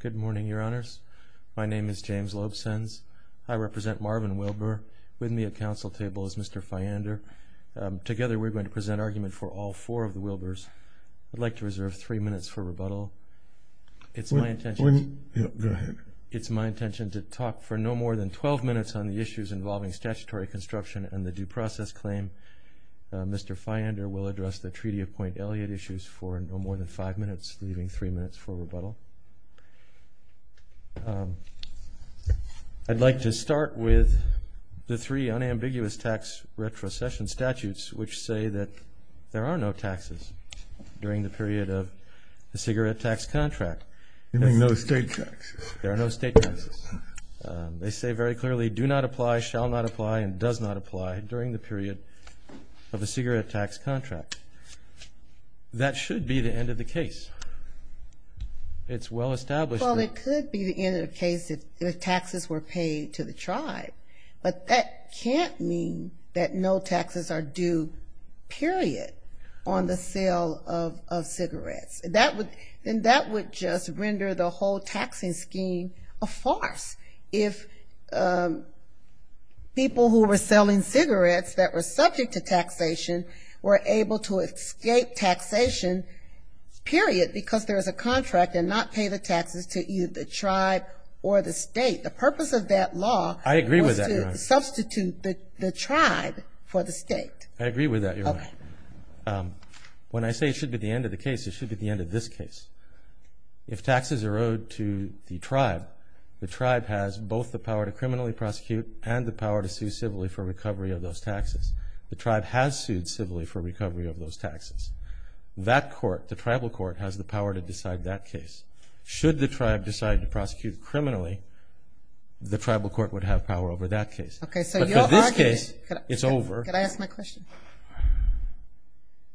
Good morning, your honors. My name is James Loebsenz. I represent Marvin Wilbur. With me at council table is Mr. Feyander. Together we're going to present argument for all four of the Wilburs. I'd like to reserve three minutes for rebuttal. It's my intention to talk for no more than twelve minutes on the issues involving statutory construction and the due process claim. Mr. Feyander will address the Treaty of Point Elliot issues for no more than five minutes, leaving three minutes for rebuttal. I'd like to start with the three unambiguous tax retrocession statutes which say that there are no taxes during the period of the cigarette tax contract. You mean no state taxes? There are no state taxes. They say very clearly, do not apply, shall not apply, and does not apply during the period of the cigarette tax contract. That should be the end of the case. It's well established. Well, it could be the end of the case if taxes were paid to the tribe. But that can't mean that no taxes are due, period, on the sale of cigarettes. Then that would just render the whole taxing scheme a farce. If people who were selling cigarettes that were subject to taxation were able to escape taxation, period, because there is a contract and not pay the taxes to either the tribe or the state. The purpose of that law was to substitute the tribe for the state. I agree with that, Your Honor. When I say it should be the end of the case, it should be the end of this case. If taxes are owed to the tribe, the tribe has both the power to criminally prosecute and the power to sue civilly for recovery of those taxes. The tribe has sued civilly for recovery of those taxes. That court, the tribal court, has the power to decide that case. Should the tribe decide to prosecute criminally, the tribal court would have power over that case. But in this case, it's over.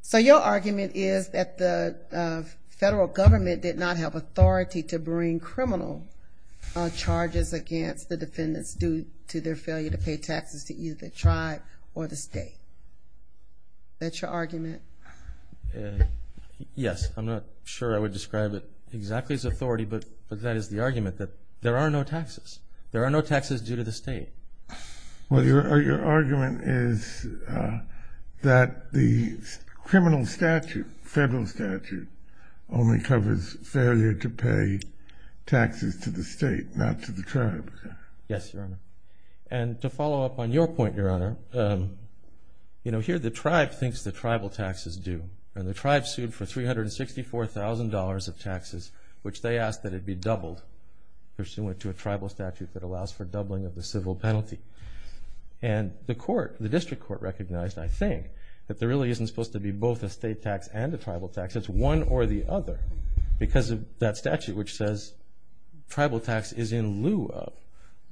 So your argument is that the federal government did not have authority to bring criminal charges against the defendants due to their failure to pay taxes to either the tribe or the state. That's your argument? Yes. I'm not sure I would describe it exactly as authority, but that is the argument that there are no taxes. There are no taxes due to the state. Well, your argument is that the criminal statute, federal statute, only covers failure to pay taxes to the state, not to the tribe. Yes, Your Honor. And to follow up on your point, Your Honor, here the tribe thinks the tribal taxes do. And the tribe sued for $364,000 of taxes, which they asked that it be doubled pursuant to a tribal statute that allows for doubling of the civil penalty. And the court, the district court, recognized, I think, that there really isn't supposed to be both a state tax and a tribal tax. It's one or the other because of that statute which says tribal tax is in lieu of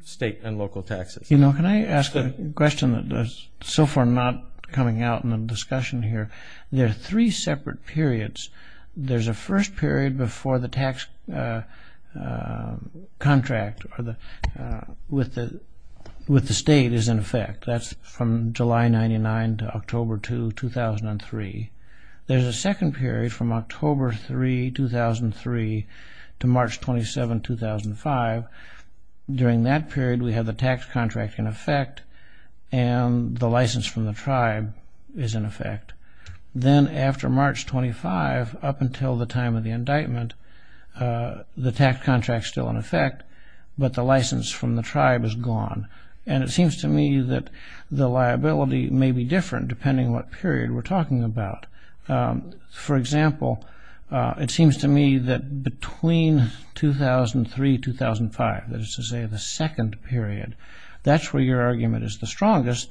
state and local taxes. You know, can I ask a question that is so far not coming out in the discussion here? There are three separate periods. There's a first period before the tax contract with the state is in effect. That's from July 99 to October 2, 2003. There's a second period from October 3, 2003 to March 27, 2005. During that period, we have the tax contract in effect and the license from the tribe is in effect. Then after March 25, up until the time of the indictment, the tax contract is still in effect, but the license from the tribe is gone. And it seems to me that the liability may be different depending on what period we're talking about. For example, it seems to me that between 2003-2005, that is to say the second period, that's where your argument is the strongest.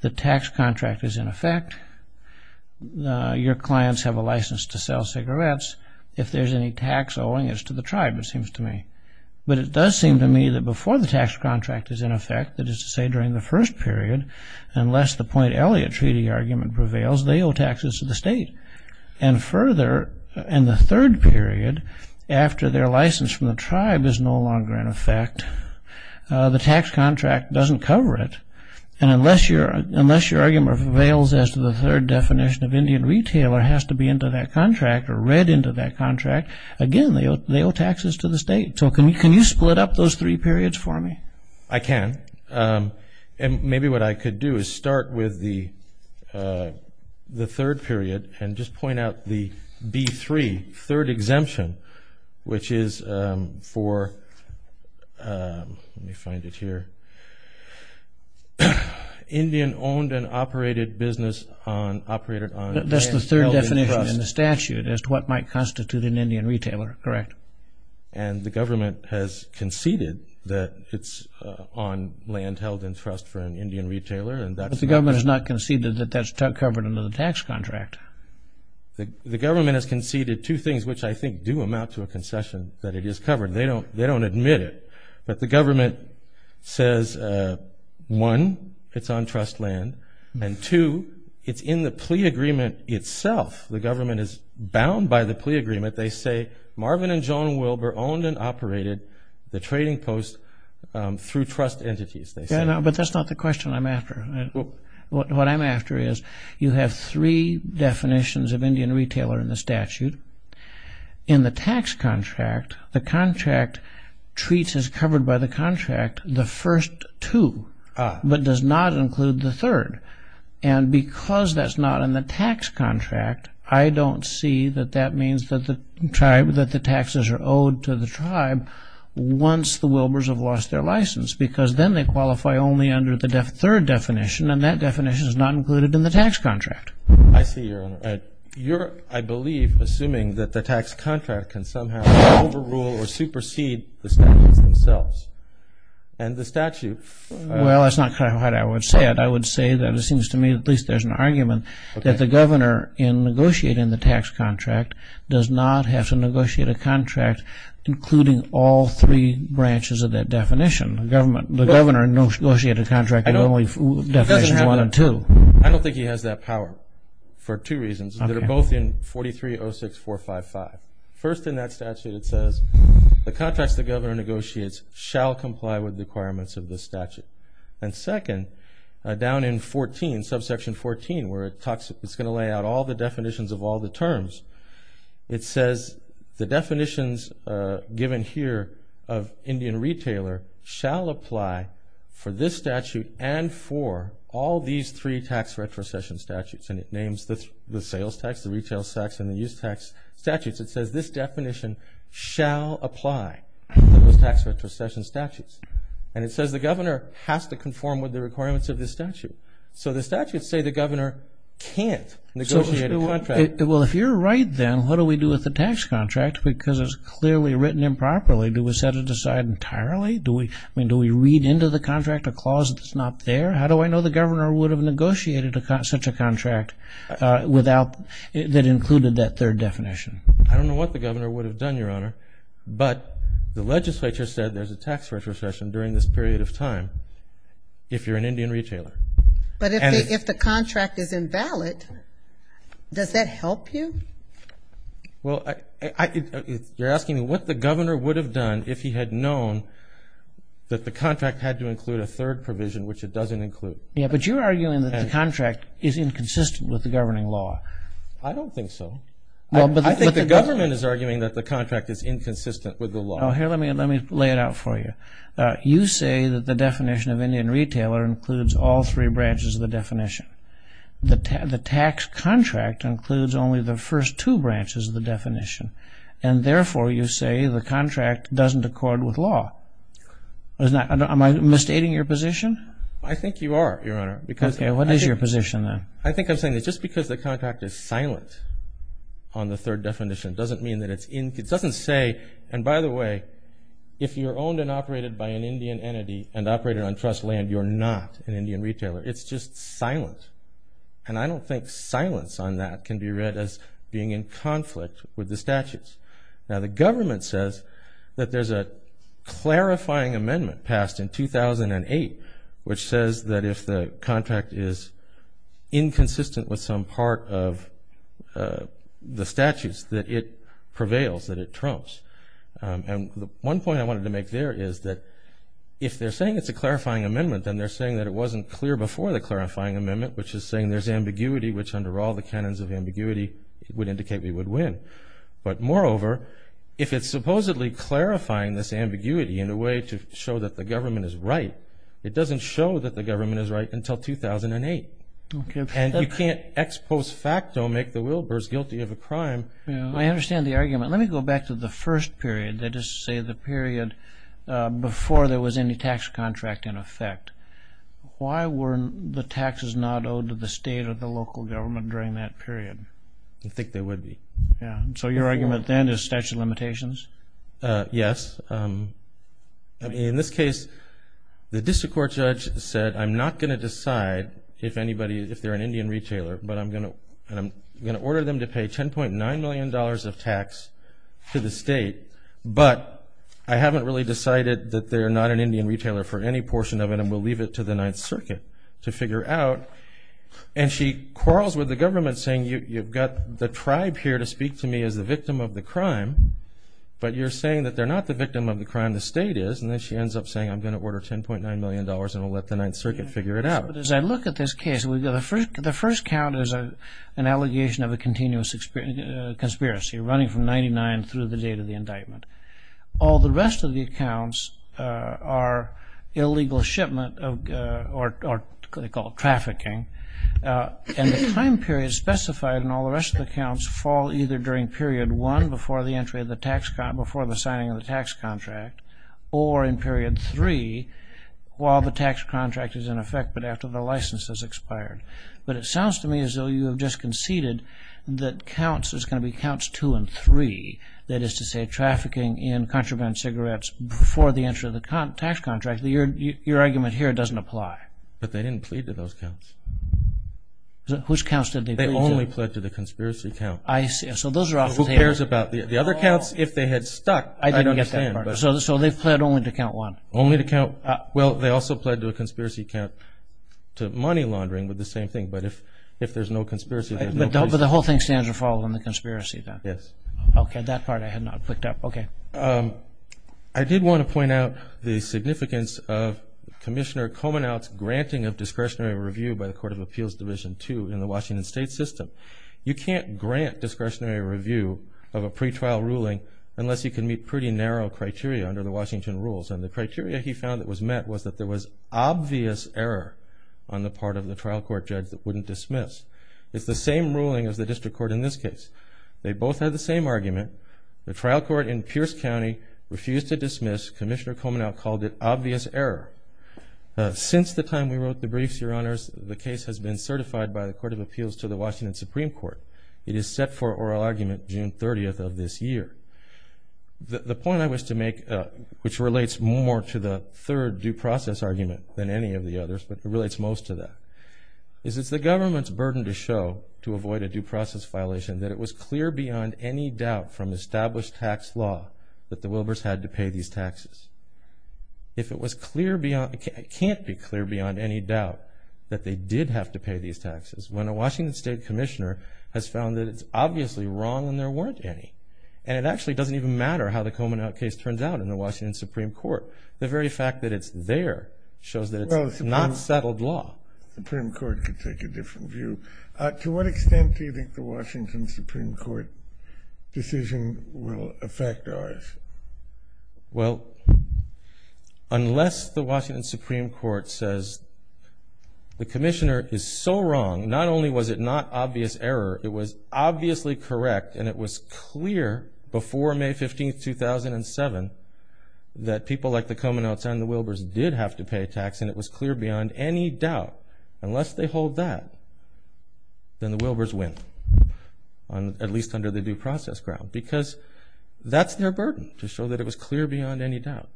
The tax contract is in effect. Your clients have a license to sell cigarettes. If there's any tax owing, it's to the tribe, it seems to me. But it does seem to me that before the tax contract is in effect, that is to say during the first period, unless the Point Elliot Treaty argument prevails, they owe taxes to the state. And further, in the third period, after their license from the tribe is no longer in effect, the tax contract doesn't cover it. And unless your argument prevails as to the third definition of Indian retailer has to be into that contract or read into that contract, again, they owe taxes to the state. So can you split up those three periods for me? I can. And maybe what I could do is start with the third period and just point out the B-3, third exemption, which is for, let me find it here, Indian owned and operated business on... That's the third definition in the statute as to what might constitute an Indian retailer, correct? And the government has conceded that it's on land held in trust for an Indian retailer. But the government has not conceded that that's covered under the tax contract. The government has conceded two things, which I think do amount to a concession, that it is covered. They don't admit it. But the government says, one, it's on trust land. And two, it's in the plea agreement itself. The government is bound by the plea agreement. They say, Marvin and Joan Wilber owned and operated the trading post through trust entities, they say. But that's not the question I'm after. What I'm after is you have three definitions of Indian retailer in the statute. In the tax contract, the contract treats as covered by the contract the first two, but does not include the third. And because that's not in the tax contract, I don't see that that means that the taxes are owed to the tribe once the Wilbers have lost their license, because then they qualify only under the third definition, and that definition is not included in the tax contract. I see, Your Honor. I believe, assuming that the tax contract can somehow overrule or supersede the statutes themselves. And the statute... Well, that's not quite how I would say it. I would say that it seems to me at least there's an argument that the governor in negotiating the tax contract does not have to negotiate a contract including all three branches of that definition. The governor negotiated a contract with only definitions one and two. And second, down in 14, subsection 14, where it's going to lay out all the definitions of all the terms, it says the definitions given here of Indian retailer shall apply for this statute and for all these three tax retrocession statutes. And it names the sales tax, the retail tax, and the use tax statutes. It says this definition shall apply for those tax retrocession statutes. And it says the governor has to conform with the requirements of this statute. So the statutes say the governor can't negotiate a contract. I don't know what the governor would have done, Your Honor. But the legislature said there's a tax retrocession during this period of time if you're an Indian retailer. But if the contract is invalid, does that help you? Well, you're asking me what the governor would have done if he had known that the contract had to include a third provision, which it doesn't include. Yeah, but you're arguing that the contract is inconsistent with the governing law. I don't think so. I think the government is arguing that the contract is inconsistent with the law. Here, let me lay it out for you. You say that the definition of Indian retailer includes all three branches of the definition. The tax contract includes only the first two branches of the definition. And therefore, you say the contract doesn't accord with law. Am I misstating your position? I think you are, Your Honor. Okay, what is your position, then? I think I'm saying that just because the contract is silent on the third definition doesn't mean that it's inconsistent. It doesn't say, and by the way, if you're owned and operated by an Indian entity and operated on trust land, you're not an Indian retailer. It's just silent. And I don't think silence on that can be read as being in conflict with the statutes. Now, the government says that there's a clarifying amendment passed in 2008, which says that if the contract is inconsistent with some part of the statutes, that it prevails, that it trumps. And one point I wanted to make there is that if they're saying it's a clarifying amendment, then they're saying that it wasn't clear before the clarifying amendment, which is saying there's ambiguity, which under all the canons of ambiguity would indicate we would win. But moreover, if it's supposedly clarifying this ambiguity in a way to show that the government is right, it doesn't show that the government is right until 2008. And you can't ex post facto make the Wilbur's guilty of a crime. I understand the argument. Let me go back to the first period, that is to say the period before there was any tax contract in effect. Why were the taxes not owed to the state or the local government during that period? I think they would be. So your argument then is statute of limitations? Yes. In this case, the district court judge said, I'm not going to decide if they're an Indian retailer, but I'm going to order them to pay $10.9 million of tax to the state, but I haven't really decided that they're not an Indian retailer for any portion of it, and we'll leave it to the Ninth Circuit to figure out. And she quarrels with the government saying, you've got the tribe here to speak to me as the victim of the crime, but you're saying that they're not the victim of the crime, the state is, and then she ends up saying, I'm going to order $10.9 million and we'll let the Ninth Circuit figure it out. But as I look at this case, the first count is an allegation of a continuous conspiracy running from 1999 through the date of the indictment. All the rest of the accounts are illegal shipment, or they call it trafficking, and the time period specified in all the rest of the accounts fall either during period one before the entry of the tax, before the signing of the tax contract, or in period three while the tax contract is in effect, but after the license has expired. But it sounds to me as though you have just conceded that counts, there's going to be counts two and three, that is to say trafficking in contraband cigarettes before the entry of the tax contract, your argument here doesn't apply. But they didn't plead to those counts. Which counts did they plead to? They only pled to the conspiracy count. I see, so those are off the table. Who cares about the other counts? If they had stuck, I'd understand. So they've pled only to count one? Only to count, well, they also pled to a conspiracy count to money laundering with the same thing, but if there's no conspiracy. But the whole thing stands to fall on the conspiracy then? Yes. Okay, that part I had not picked up, okay. I did want to point out the significance of Commissioner Komenaut's granting of discretionary review by the Court of Appeals Division II in the Washington State system. You can't grant discretionary review of a pretrial ruling unless you can meet pretty narrow criteria under the Washington rules. And the criteria he found that was met was that there was obvious error on the part of the trial court judge that wouldn't dismiss. It's the same ruling as the district court in this case. They both had the same argument. The trial court in Pierce County refused to dismiss. Commissioner Komenaut called it obvious error. Since the time we wrote the briefs, Your Honors, the case has been certified by the Court of Appeals to the Washington Supreme Court. It is set for oral argument June 30th of this year. The point I wish to make, which relates more to the third due process argument than any of the others, but it relates most to that, is it's the government's burden to show to avoid a due process violation that it was clear beyond any doubt from established tax law that the Wilbers had to pay these taxes. If it was clear beyond, it can't be clear beyond any doubt that they did have to pay these taxes when a Washington State commissioner has found that it's obviously wrong and there weren't any. And it actually doesn't even matter how the Komenaut case turns out in the Washington Supreme Court. The very fact that it's there shows that it's not settled law. Well, the Supreme Court could take a different view. To what extent do you think the Washington Supreme Court decision will affect ours? Well, unless the Washington Supreme Court says the commissioner is so wrong, not only was it not obvious error, it was obviously correct and it was clear before May 15th, 2007, that people like the Komenauts and the Wilbers did have to pay tax and it was clear beyond any doubt, unless they hold that, then the Wilbers win, at least under the due process ground. Because that's their burden, to show that it was clear beyond any doubt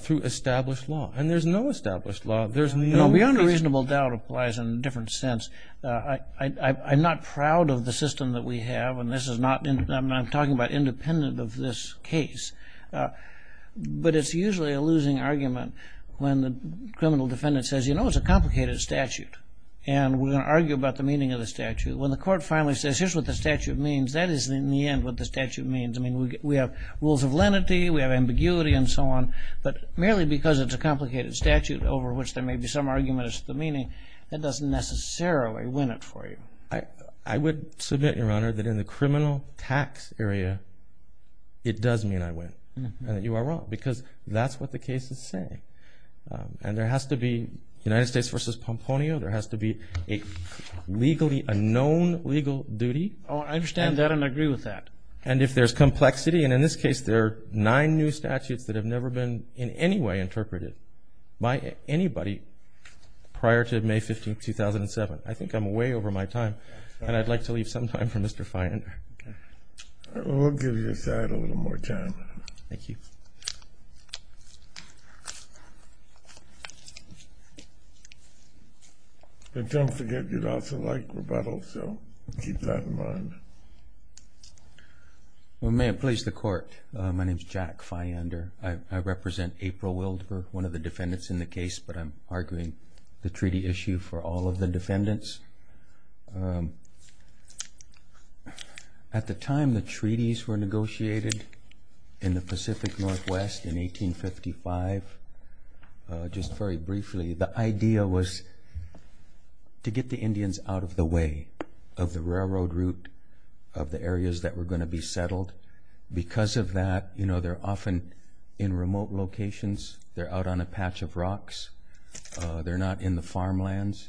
through established law. And there's no established law. Beyond a reasonable doubt applies in a different sense. I'm not proud of the system that we have, and I'm talking about independent of this case, but it's usually a losing argument when the criminal defendant says, you know, it's a complicated statute and we're going to argue about the meaning of the statute. When the court finally says, here's what the statute means, that is in the end what the statute means. I mean, we have rules of lenity, we have ambiguity and so on, but merely because it's a complicated statute over which there may be some argument as to the meaning, that doesn't necessarily win it for you. I would submit, Your Honor, that in the criminal tax area, it does mean I win and that you are wrong, because that's what the case is saying. And there has to be United States v. Pomponio, there has to be a known legal duty. I understand that and agree with that. And if there's complexity, and in this case there are nine new statutes that have never been in any way interpreted by anybody prior to May 15, 2007. I think I'm way over my time, and I'd like to leave some time for Mr. Feinder. We'll give you a little more time. Thank you. And don't forget, you'd also like rebuttal, so keep that in mind. Well, may it please the Court, my name is Jack Feinder. I represent April Wilder, one of the defendants in the case, but I'm arguing the treaty issue for all of the defendants. At the time the treaties were negotiated in the Pacific Northwest in 1855, just very briefly, the idea was to get the Indians out of the way of the railroad route of the areas that were going to be settled. Because of that, you know, they're often in remote locations. They're out on a patch of rocks. They're not in the farmlands.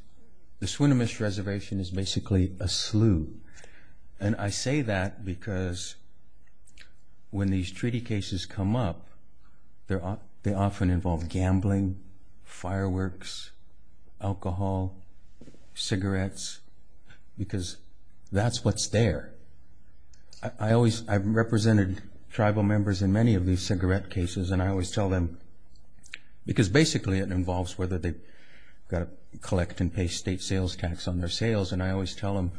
The Swinomish Reservation is basically a slew. And I say that because when these treaty cases come up, they often involve gambling, fireworks, alcohol, cigarettes, because that's what's there. I've represented tribal members in many of these cigarette cases, and I always tell them, because basically it involves whether they've got to collect and pay state sales tax on their sales, and I always tell them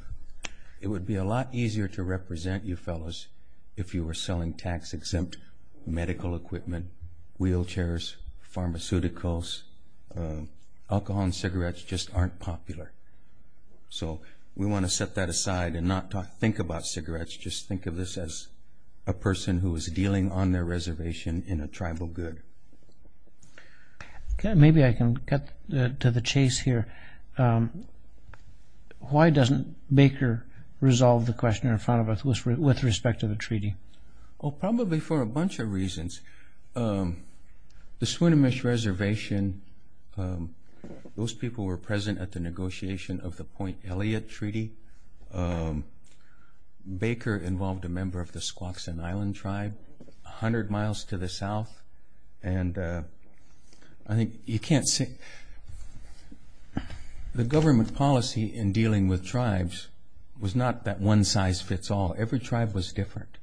it would be a lot easier to represent you fellows if you were selling tax-exempt medical equipment, wheelchairs, pharmaceuticals. Alcohol and cigarettes just aren't popular. So we want to set that aside and not think about cigarettes. Just think of this as a person who is dealing on their reservation in a tribal good. Maybe I can cut to the chase here. Why doesn't Baker resolve the question in front of us with respect to the treaty? Oh, probably for a bunch of reasons. The Swinomish Reservation, those people were present at the negotiation of the Point Elliott Treaty. Baker involved a member of the Squaxin Island tribe 100 miles to the south. And I think you can't say the government policy in dealing with tribes was not that one size fits all. Every tribe was different.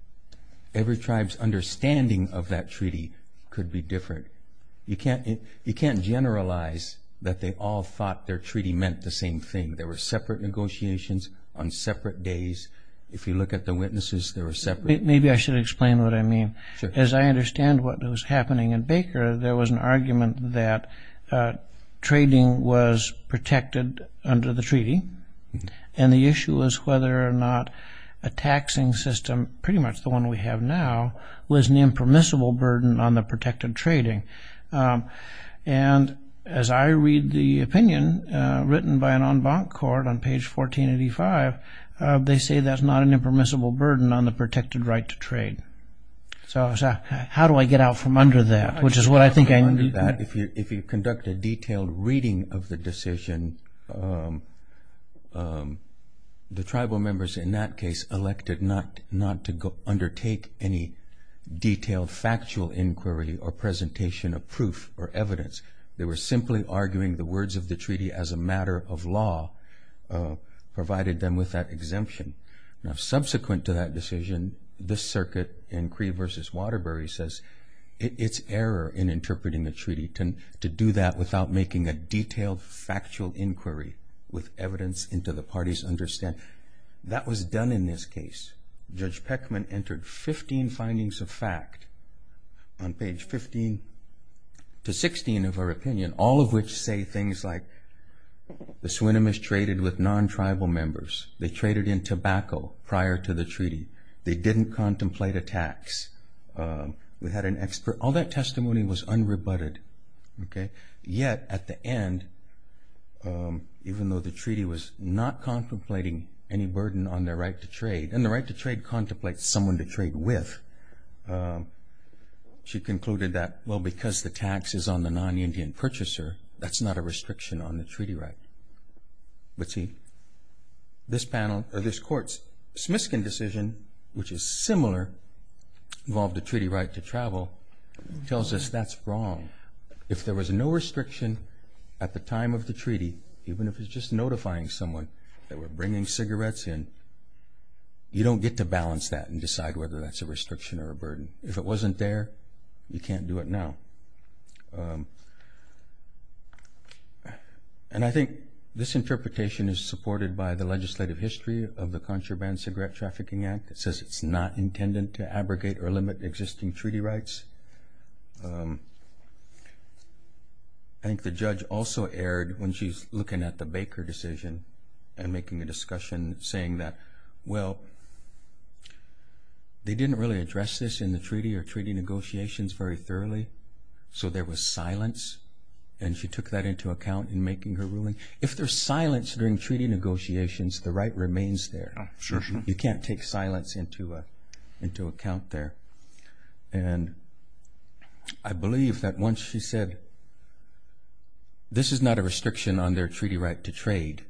Every tribe's understanding of that treaty could be different. You can't generalize that they all thought their treaty meant the same thing. There were separate negotiations on separate days. If you look at the witnesses, they were separate. Maybe I should explain what I mean. As I understand what was happening in Baker, there was an argument that trading was protected under the treaty. And the issue was whether or not a taxing system, pretty much the one we have now, was an impermissible burden on the protected trading. And as I read the opinion written by an en banc court on page 1485, they say that's not an impermissible burden on the protected right to trade. So how do I get out from under that? If you conduct a detailed reading of the decision, the tribal members in that case elected not to undertake any detailed factual inquiry or presentation of proof or evidence. They were simply arguing the words of the treaty as a matter of law provided them with that exemption. Now, subsequent to that decision, the circuit in Cree v. Waterbury says it's error in interpreting the treaty to do that without making a detailed factual inquiry with evidence into the party's understanding. That was done in this case. Judge Peckman entered 15 findings of fact on page 15 to 16 of her opinion, all of which say things like the Swinomish traded with non-tribal members. They traded in tobacco prior to the treaty. They didn't contemplate a tax. We had an expert. All that testimony was unrebutted. Yet at the end, even though the treaty was not contemplating any burden on their right to trade and the right to trade contemplates someone to trade with, she concluded that, well, because the tax is on the non-Indian purchaser, that's not a restriction on the treaty right. But see, this panel or this court's Smiskin decision, which is similar, involved a treaty right to travel, tells us that's wrong. If there was no restriction at the time of the treaty, even if it's just notifying someone that we're bringing cigarettes in, you don't get to balance that and decide whether that's a restriction or a burden. If it wasn't there, you can't do it now. And I think this interpretation is supported by the legislative history of the Contraband Cigarette Trafficking Act. It says it's not intended to abrogate or limit existing treaty rights. I think the judge also erred when she's looking at the Baker decision and making a discussion saying that, well, they didn't really address this in the treaty or treaty negotiations very thoroughly. So there was silence. And she took that into account in making her ruling. If there's silence during treaty negotiations, the right remains there. You can't take silence into account there. And I believe that once she said this is not a restriction on their treaty right to trade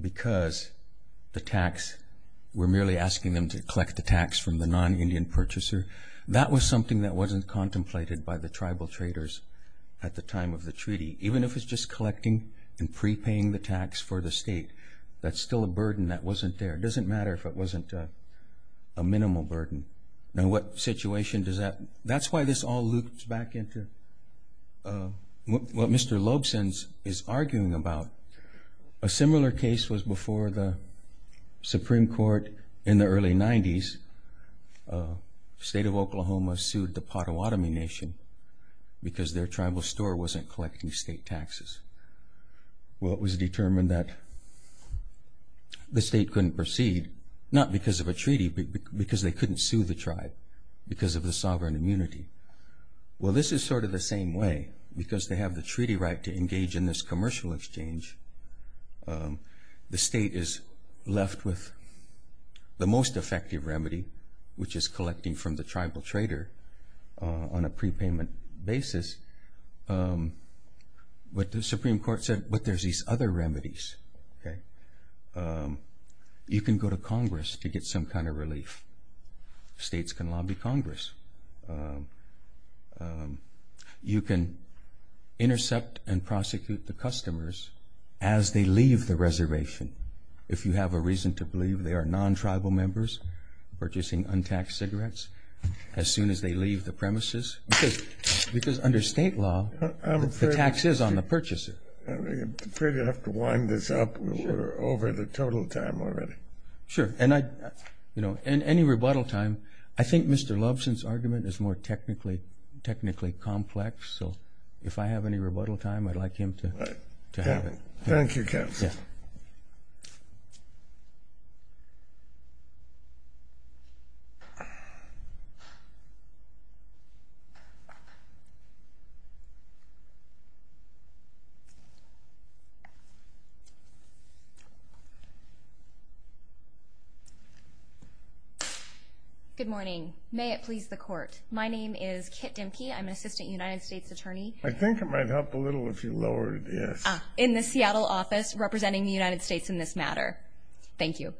because the tax, we're merely asking them to collect the tax from the non-Indian purchaser, that was something that wasn't contemplated by the tribal traders at the time of the treaty. Even if it's just collecting and prepaying the tax for the state, that's still a burden that wasn't there. It doesn't matter if it wasn't a minimal burden. Now, what situation does that? That's why this all loops back into what Mr. Lobson is arguing about. A similar case was before the Supreme Court in the early 90s. The state of Oklahoma sued the Potawatomi Nation because their tribal store wasn't collecting state taxes. Well, it was determined that the state couldn't proceed, not because of a treaty, but because they couldn't sue the tribe because of the sovereign immunity. Well, this is sort of the same way. Because they have the treaty right to engage in this commercial exchange, the state is left with the most effective remedy, which is collecting from the tribal trader on a prepayment basis. But the Supreme Court said, but there's these other remedies. You can go to Congress to get some kind of relief. States can lobby Congress. You can intercept and prosecute the customers as they leave the reservation if you have a reason to believe they are non-tribal members purchasing untaxed cigarettes as soon as they leave the premises. Because under state law, the tax is on the purchaser. I'm afraid I have to wind this up. We're over the total time already. Sure. Any rebuttal time. I think Mr. Lobson's argument is more technically complex, so if I have any rebuttal time, I'd like him to have it. Thank you, Kevin. Good morning. May it please the Court. My name is Kit Dimke. I'm an assistant United States attorney. I think it might help a little if you lower it, yes. In the Seattle office representing the United States in this matter. Thank you.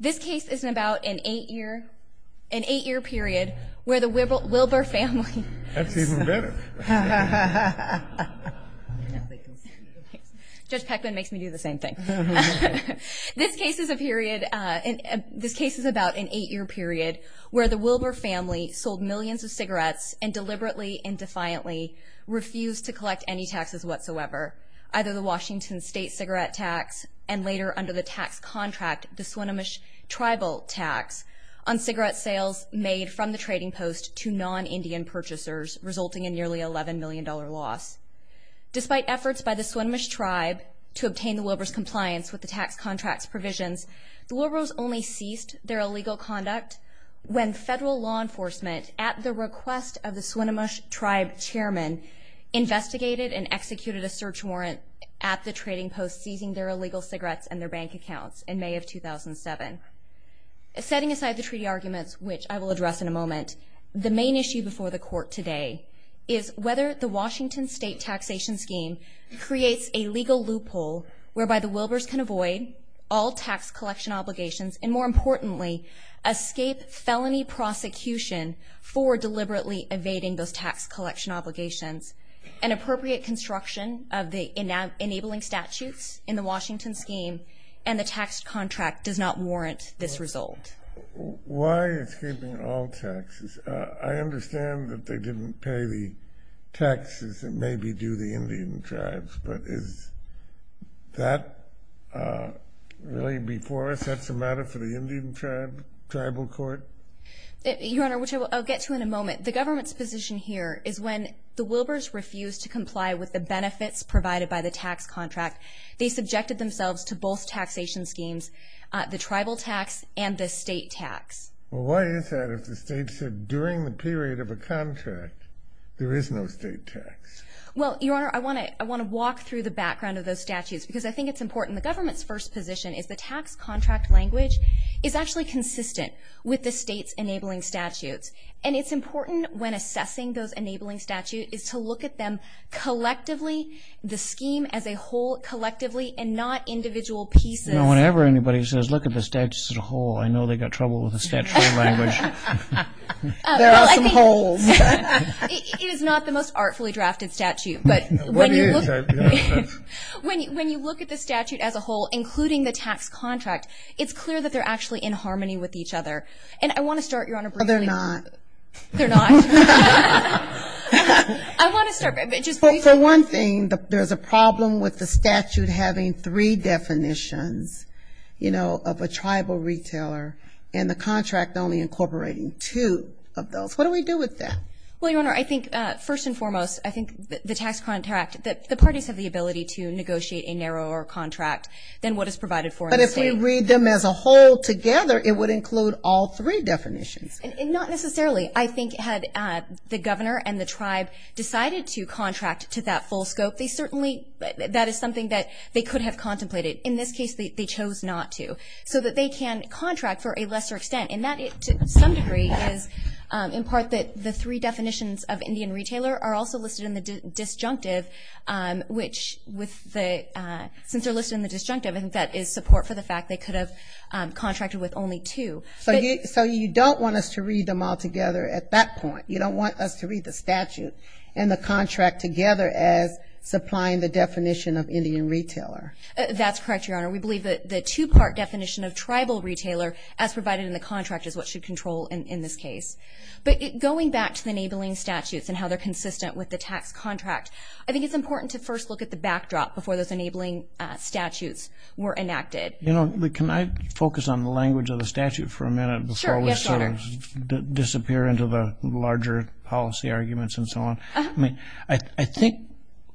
This case is about an eight-year period where the Wilbur family. That's even better. Judge Peckman makes me do the same thing. This case is about an eight-year period where the Wilbur family sold millions of cigarettes and deliberately and defiantly refused to collect any taxes whatsoever, either the Washington state cigarette tax and later under the tax contract the Swinomish tribal tax on cigarette sales made from the trading post to non-Indian purchasers, resulting in nearly $11 million loss. Despite efforts by the Swinomish tribe to obtain the Wilbur's compliance with the tax contract's provisions, the Wilburs only ceased their illegal conduct when federal law enforcement, at the request of the Swinomish tribe chairman, investigated and executed a search warrant at the trading post seizing their illegal cigarettes and their bank accounts in May of 2007. Setting aside the treaty arguments, which I will address in a moment, the main issue before the court today is whether the Washington state taxation scheme creates a legal loophole whereby the Wilburs can avoid all tax collection obligations and, more importantly, escape felony prosecution for deliberately evading those tax collection obligations. An appropriate construction of the enabling statutes in the Washington scheme and the tax contract does not warrant this result. Why escaping all taxes? I understand that they didn't pay the taxes that maybe do the Indian tribes, but is that really before us? That's a matter for the Indian tribal court? Your Honor, which I'll get to in a moment, the government's position here is when the Wilburs refused to comply with the benefits provided by the tax contract, they subjected themselves to both taxation schemes, the tribal tax and the state tax. Well, why is that if the state said during the period of a contract there is no state tax? Well, Your Honor, I want to walk through the background of those statutes because I think it's important. The government's first position is the tax contract language is actually consistent with the state's enabling statutes, and it's important when assessing those enabling statutes is to look at them collectively, the scheme as a whole collectively, and not individual pieces. Whenever anybody says look at the statutes as a whole, I know they've got trouble with the statutory language. There are some holes. It is not the most artfully drafted statute, but when you look at the statute as a whole, including the tax contract, it's clear that they're actually in harmony with each other. And I want to start, Your Honor, briefly. No, they're not. They're not? I want to start, but just briefly. Well, for one thing, there's a problem with the statute having three definitions, you know, of a tribal retailer and the contract only incorporating two of those. What do we do with that? Well, Your Honor, I think first and foremost, I think the tax contract, the parties have the ability to negotiate a narrower contract than what is provided for in the state. But if we read them as a whole together, it would include all three definitions. Not necessarily. I think had the governor and the tribe decided to contract to that full scope, that is something that they could have contemplated. In this case, they chose not to. So that they can contract for a lesser extent, and that to some degree is in part that the three definitions of Indian retailer are also listed in the disjunctive, which since they're listed in the disjunctive, I think that is support for the fact they could have contracted with only two. So you don't want us to read them all together at that point. You don't want us to read the statute and the contract together as supplying the definition of Indian retailer. That's correct, Your Honor. We believe that the two-part definition of tribal retailer as provided in the contract is what should control in this case. But going back to the enabling statutes and how they're consistent with the tax contract, I think it's important to first look at the backdrop before those enabling statutes were enacted. You know, can I focus on the language of the statute for a minute before we sort of disappear into the larger policy arguments and so on? I think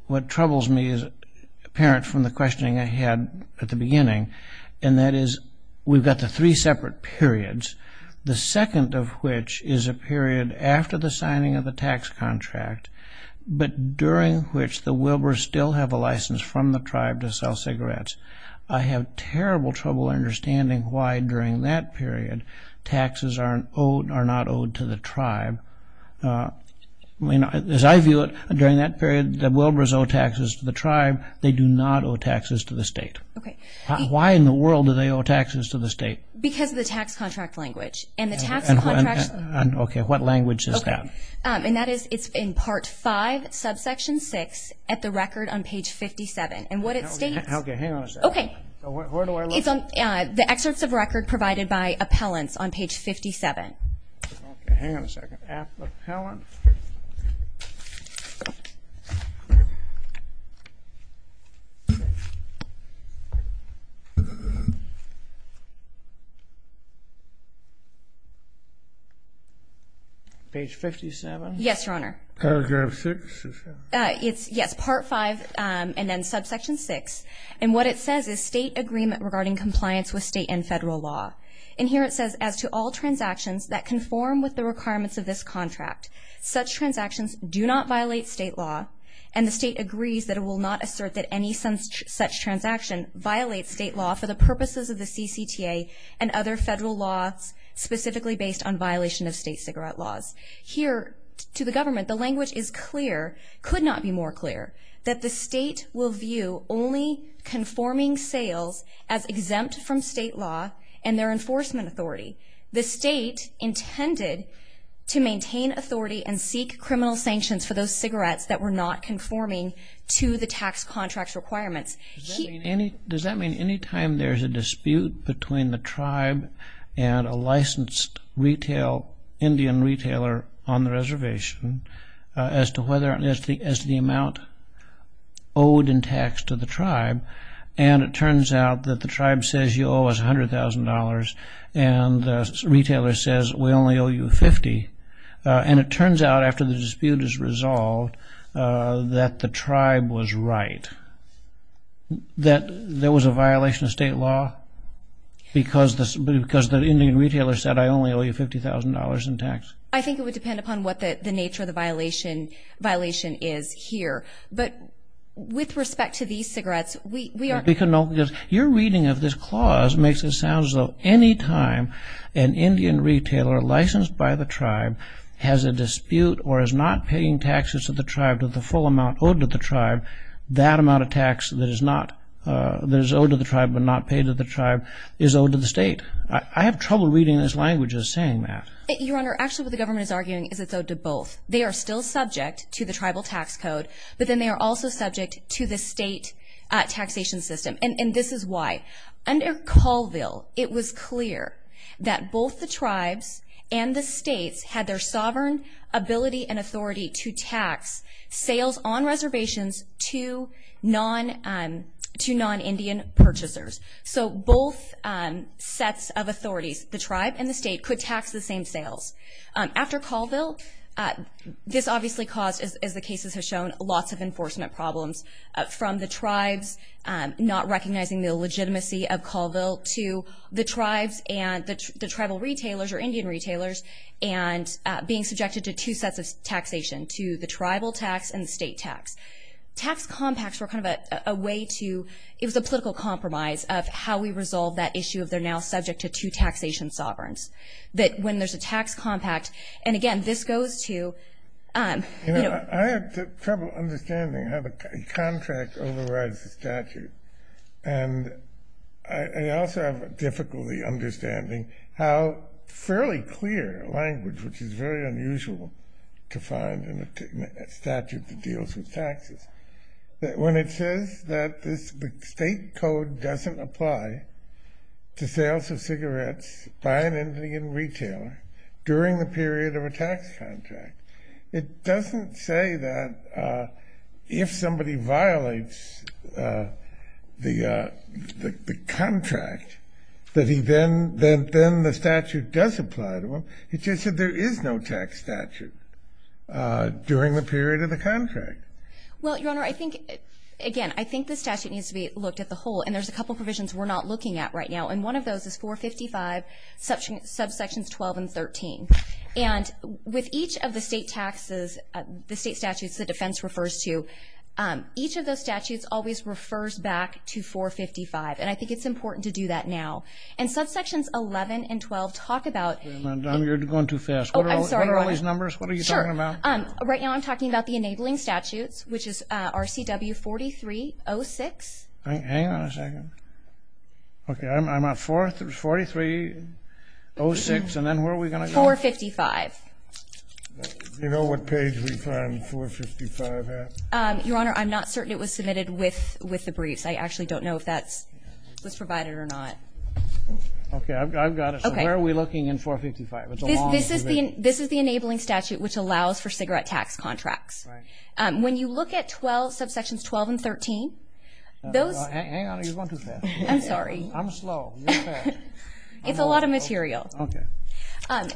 what troubles me is apparent from the questioning I had at the beginning, and that is we've got the three separate periods, the second of which is a period after the signing of the tax contract, but during which the Wilbur's still have a license from the tribe to sell cigarettes. I have terrible trouble understanding why during that period taxes are not owed to the tribe. As I view it, during that period the Wilbur's owe taxes to the tribe. They do not owe taxes to the state. Okay. Why in the world do they owe taxes to the state? Because of the tax contract language, and the tax contract language. Okay, what language is that? And that is it's in Part 5, subsection 6, at the record on page 57. Okay, hang on a second. Okay. Where do I look? It's on the excerpts of record provided by appellants on page 57. Okay, hang on a second. Appellant. Page 57? Yes, Your Honor. Paragraph 6? Yes, Part 5 and then subsection 6. And what it says is state agreement regarding compliance with state and federal law. And here it says, as to all transactions that conform with the requirements of this contract, such transactions do not violate state law, and the state agrees that it will not assert that any such transaction violates state law for the purposes of the CCTA and other federal laws specifically based on violation of state cigarette laws. Here, to the government, the language is clear, could not be more clear, that the state will view only conforming sales as exempt from state law and their enforcement authority. The state intended to maintain authority and seek criminal sanctions for those cigarettes that were not conforming to the tax contract's requirements. Does that mean any time there's a dispute between the tribe and a licensed Indian retailer on the reservation, as to the amount owed in tax to the tribe, and it turns out that the tribe says you owe us $100,000 and the retailer says we only owe you $50,000, and it turns out after the dispute is resolved that the tribe was right, that there was a violation of state law because the Indian retailer said I only owe you $50,000 in tax? I think it would depend upon what the nature of the violation is here. But with respect to these cigarettes, we are... Your reading of this clause makes it sound as though any time an Indian retailer licensed by the tribe has a dispute or is not paying taxes to the tribe to the full amount owed to the tribe, that amount of tax that is owed to the tribe but not paid to the tribe is owed to the state. I have trouble reading this language as saying that. Your Honor, actually what the government is arguing is it's owed to both. They are still subject to the tribal tax code, but then they are also subject to the state taxation system, and this is why. Under Colville, it was clear that both the tribes and the states had their sovereign ability and authority to tax sales on reservations to non-Indian purchasers. So both sets of authorities, the tribe and the state, could tax the same sales. After Colville, this obviously caused, as the cases have shown, lots of enforcement problems from the tribes not recognizing the legitimacy of Colville to the tribes and the tribal retailers or Indian retailers and being subjected to two sets of taxation, to the tribal tax and the state tax. Tax compacts were kind of a way to, it was a political compromise of how we resolve that issue of they're now subject to two taxation sovereigns, that when there's a tax compact, and again, this goes to, you know. I have trouble understanding how the contract overrides the statute, and I also have difficulty understanding how fairly clear language, which is very unusual to find in a statute that deals with taxes, that when it says that the state code doesn't apply to sales of cigarettes by an Indian retailer during the period of a tax contract, it doesn't say that if somebody violates the contract, that he then, then the statute does apply to him. It just said there is no tax statute during the period of the contract. Well, Your Honor, I think, again, I think the statute needs to be looked at the whole, and there's a couple provisions we're not looking at right now, and one of those is 455, subsections 12 and 13. And with each of the state taxes, the state statutes the defense refers to, each of those statutes always refers back to 455, and I think it's important to do that now. And subsections 11 and 12 talk about... Wait a minute, you're going too fast. I'm sorry, Your Honor. What are all these numbers? What are you talking about? Right now I'm talking about the enabling statutes, which is RCW 4306. Hang on a second. Okay, I'm at 4306, and then where are we going to go? 455. Do you know what page we find 455 at? Your Honor, I'm not certain it was submitted with the briefs. I actually don't know if that was provided or not. Okay, I've got it. So where are we looking in 455? This is the enabling statute, which allows for cigarette tax contracts. When you look at subsections 12 and 13, those... Hang on, you're going too fast. I'm sorry. I'm slow. You're fast. It's a lot of material. Okay.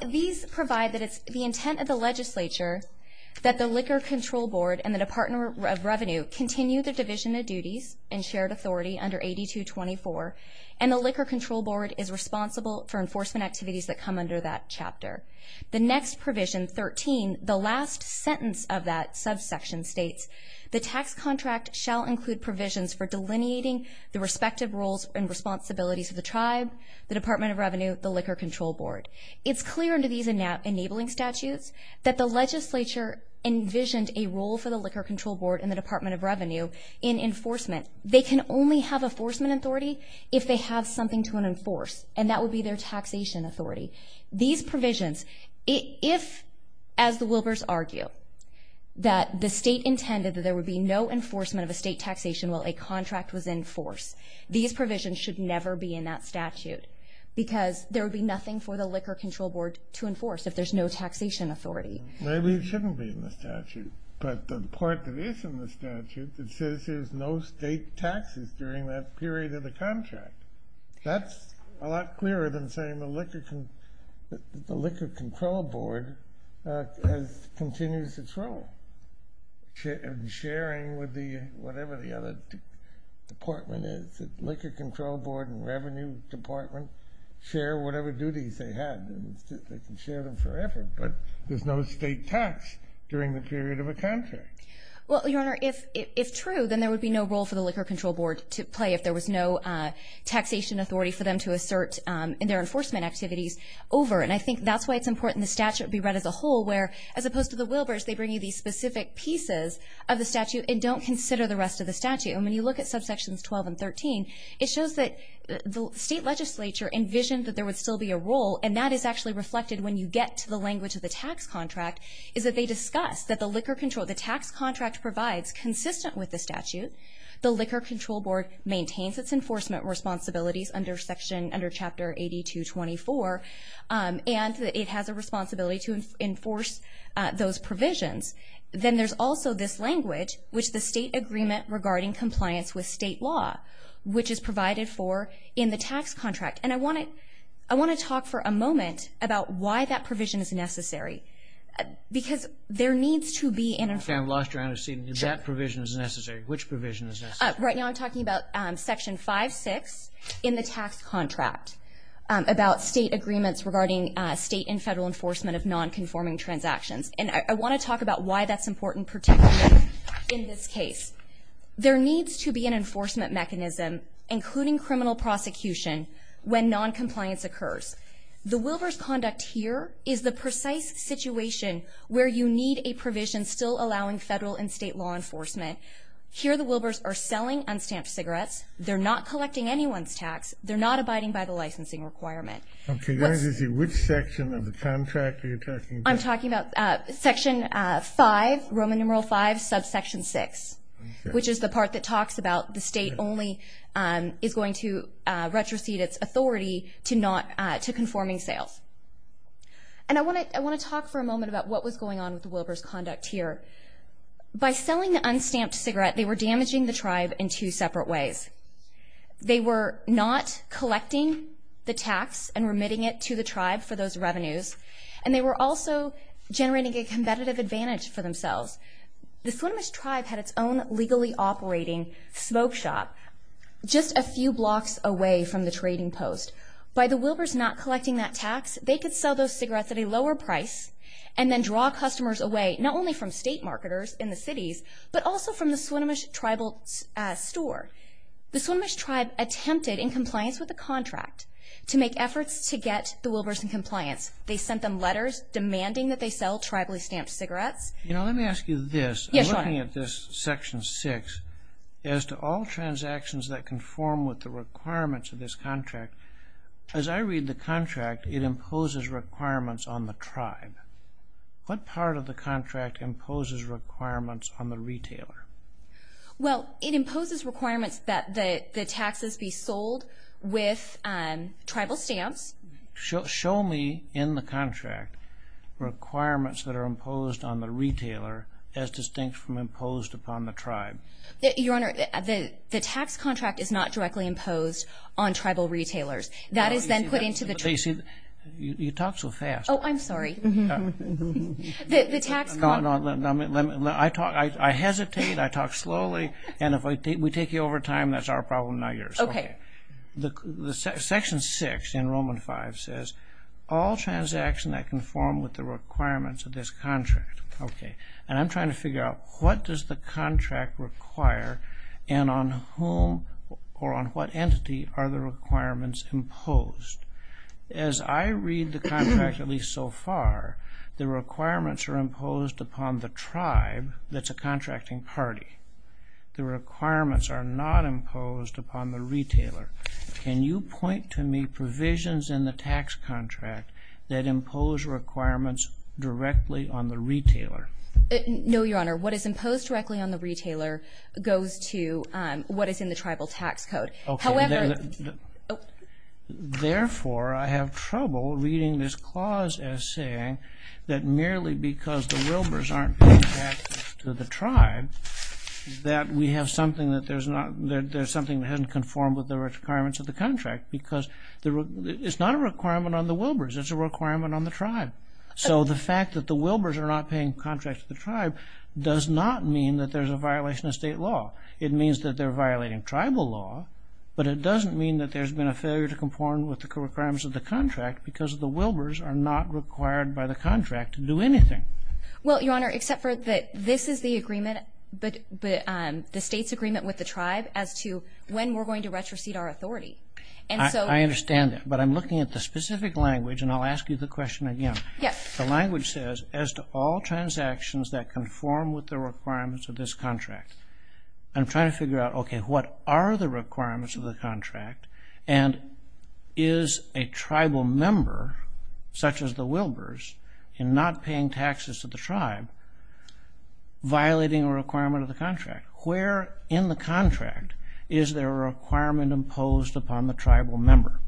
These provide that it's the intent of the legislature that the Liquor Control Board and the Department of Revenue continue their division of duties in shared authority under 8224, and the Liquor Control Board is responsible for enforcement activities that come under that chapter. The next provision, 13, the last sentence of that subsection states, the tax contract shall include provisions for delineating the respective roles and responsibilities of the tribe, the Department of Revenue, the Liquor Control Board. It's clear under these enabling statutes that the legislature envisioned a role for the Liquor Control Board and the Department of Revenue in enforcement. They can only have enforcement authority if they have something to enforce, and that would be their taxation authority. These provisions, if, as the Wilbers argue, that the state intended that there would be no enforcement of a state taxation while a contract was in force, these provisions should never be in that statute because there would be nothing for the Liquor Control Board to enforce if there's no taxation authority. Maybe it shouldn't be in the statute, but the part that is in the statute that says there's no state taxes during that period of the contract. That's a lot clearer than saying the Liquor Control Board continues its role in sharing with whatever the other department is. The Liquor Control Board and Revenue Department share whatever duties they had. They can share them forever, but there's no state tax during the period of a contract. Well, Your Honor, if true, then there would be no role for the Liquor Control Board to play if there was no taxation authority for them to assert in their enforcement activities over, and I think that's why it's important the statute be read as a whole, where, as opposed to the Wilbers, they bring you these specific pieces of the statute and don't consider the rest of the statute. And when you look at subsections 12 and 13, it shows that the state legislature envisioned that there would still be a role, and that is actually reflected when you get to the language of the tax contract, is that they discuss that the liquor control, the tax contract provides, is consistent with the statute. The Liquor Control Board maintains its enforcement responsibilities under Chapter 8224, and it has a responsibility to enforce those provisions. Then there's also this language, which is the state agreement regarding compliance with state law, which is provided for in the tax contract. And I want to talk for a moment about why that provision is necessary, because there needs to be an enforcement. That provision is necessary. Which provision is necessary? Right now I'm talking about Section 5.6 in the tax contract, about state agreements regarding state and federal enforcement of nonconforming transactions. And I want to talk about why that's important, particularly in this case. There needs to be an enforcement mechanism, including criminal prosecution, when noncompliance occurs. The Wilbers conduct here is the precise situation where you need a provision still allowing federal and state law enforcement. Here the Wilbers are selling unstamped cigarettes. They're not collecting anyone's tax. They're not abiding by the licensing requirement. Okay. Which section of the contract are you talking about? I'm talking about Section 5, Roman numeral 5, subsection 6, which is the part that talks about the state only is going to retrocede its authority to conforming sales. And I want to talk for a moment about what was going on with the Wilbers' conduct here. By selling the unstamped cigarette, they were damaging the tribe in two separate ways. They were not collecting the tax and remitting it to the tribe for those revenues, and they were also generating a competitive advantage for themselves. The Swinomish tribe had its own legally operating smoke shop just a few blocks away from the trading post. By the Wilbers not collecting that tax, they could sell those cigarettes at a lower price and then draw customers away, not only from state marketers in the cities, but also from the Swinomish tribal store. The Swinomish tribe attempted, in compliance with the contract, to make efforts to get the Wilbers in compliance. They sent them letters demanding that they sell tribally stamped cigarettes. You know, let me ask you this. Yes, sir. I'm looking at this Section 6. As to all transactions that conform with the requirements of this contract, as I read the contract, it imposes requirements on the tribe. What part of the contract imposes requirements on the retailer? Well, it imposes requirements that the taxes be sold with tribal stamps. Show me in the contract requirements that are imposed on the retailer as distinct from imposed upon the tribe. Your Honor, the tax contract is not directly imposed on tribal retailers. That is then put into the tribe. You talk so fast. Oh, I'm sorry. The tax contract. I hesitate, I talk slowly, and if we take you over time, that's our problem, not yours. Okay. Section 6 in Roman V says, All transactions that conform with the requirements of this contract. Okay. And I'm trying to figure out what does the contract require and on whom or on what entity are the requirements imposed? As I read the contract, at least so far, the requirements are imposed upon the tribe that's a contracting party. The requirements are not imposed upon the retailer. Can you point to me provisions in the tax contract that impose requirements directly on the retailer? No, Your Honor. What is imposed directly on the retailer goes to what is in the tribal tax code. Okay. Therefore, I have trouble reading this clause as saying that merely because the Wilbers aren't being taxed to the tribe, that we have something that hasn't conformed with the requirements of the contract because it's not a requirement on the Wilbers. It's a requirement on the tribe. So the fact that the Wilbers are not paying contracts to the tribe does not mean that there's a violation of state law. It means that they're violating tribal law, but it doesn't mean that there's been a failure to conform with the requirements of the contract because the Wilbers are not required by the contract to do anything. Well, Your Honor, except for that this is the agreement, the state's agreement with the tribe as to when we're going to retrocede our authority. I understand that, but I'm looking at the specific language, and I'll ask you the question again. Yes. The language says, as to all transactions that conform with the requirements of this contract, I'm trying to figure out, okay, what are the requirements of the contract and is a tribal member, such as the Wilbers, in not paying taxes to the tribe violating a requirement of the contract? Where in the contract is there a requirement imposed upon the tribal member?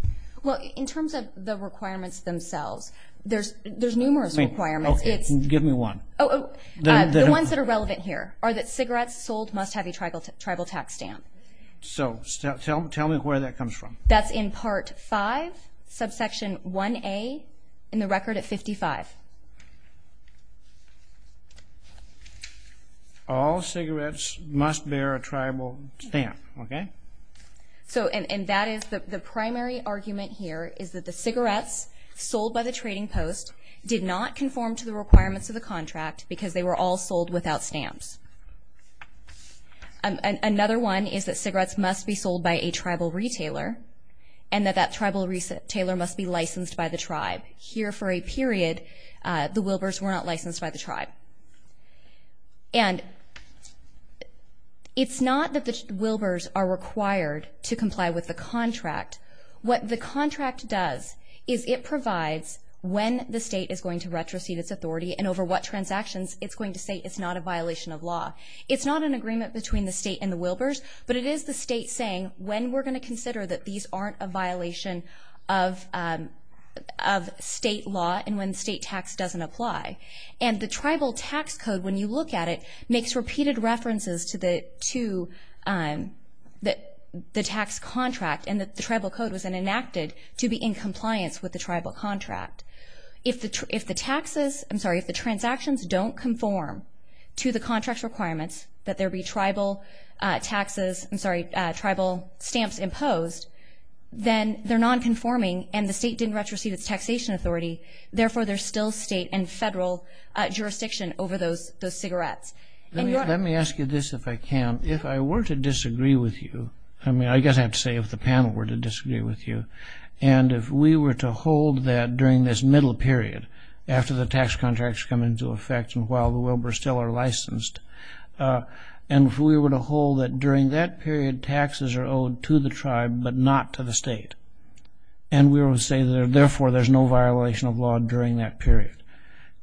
Well, in terms of the requirements themselves, there's numerous requirements. Give me one. The ones that are relevant here are that cigarettes sold must have a tribal tax stamp. So tell me where that comes from. That's in Part 5, subsection 1A, in the record at 55. All cigarettes must bear a tribal stamp, okay? And that is the primary argument here, is that the cigarettes sold by the trading post did not conform to the requirements of the contract because they were all sold without stamps. Another one is that cigarettes must be sold by a tribal retailer and that that tribal retailer must be licensed by the tribe. Here, for a period, the Wilbers were not licensed by the tribe. And it's not that the Wilbers are required to comply with the contract. What the contract does is it provides when the state is going to retrocede its authority and over what transactions, it's going to say it's not a violation of law. It's not an agreement between the state and the Wilbers, but it is the state saying when we're going to consider that these aren't a violation of state law and when state tax doesn't apply. And the tribal tax code, when you look at it, makes repeated references to the tax contract and that the tribal code was enacted to be in compliance with the tribal contract. If the taxes, I'm sorry, if the transactions don't conform to the contract's requirements that there be tribal taxes, I'm sorry, tribal stamps imposed, then they're nonconforming and the state didn't retrocede its taxation authority. Therefore, there's still state and federal jurisdiction over those cigarettes. Let me ask you this, if I can. If I were to disagree with you, I mean, I guess I have to say if the panel were to disagree with you, and if we were to hold that during this middle period after the tax contracts come into effect and while the Wilbers still are licensed, and if we were to hold that during that period taxes are owed to the tribe but not to the state, and we were to say therefore there's no violation of law during that period,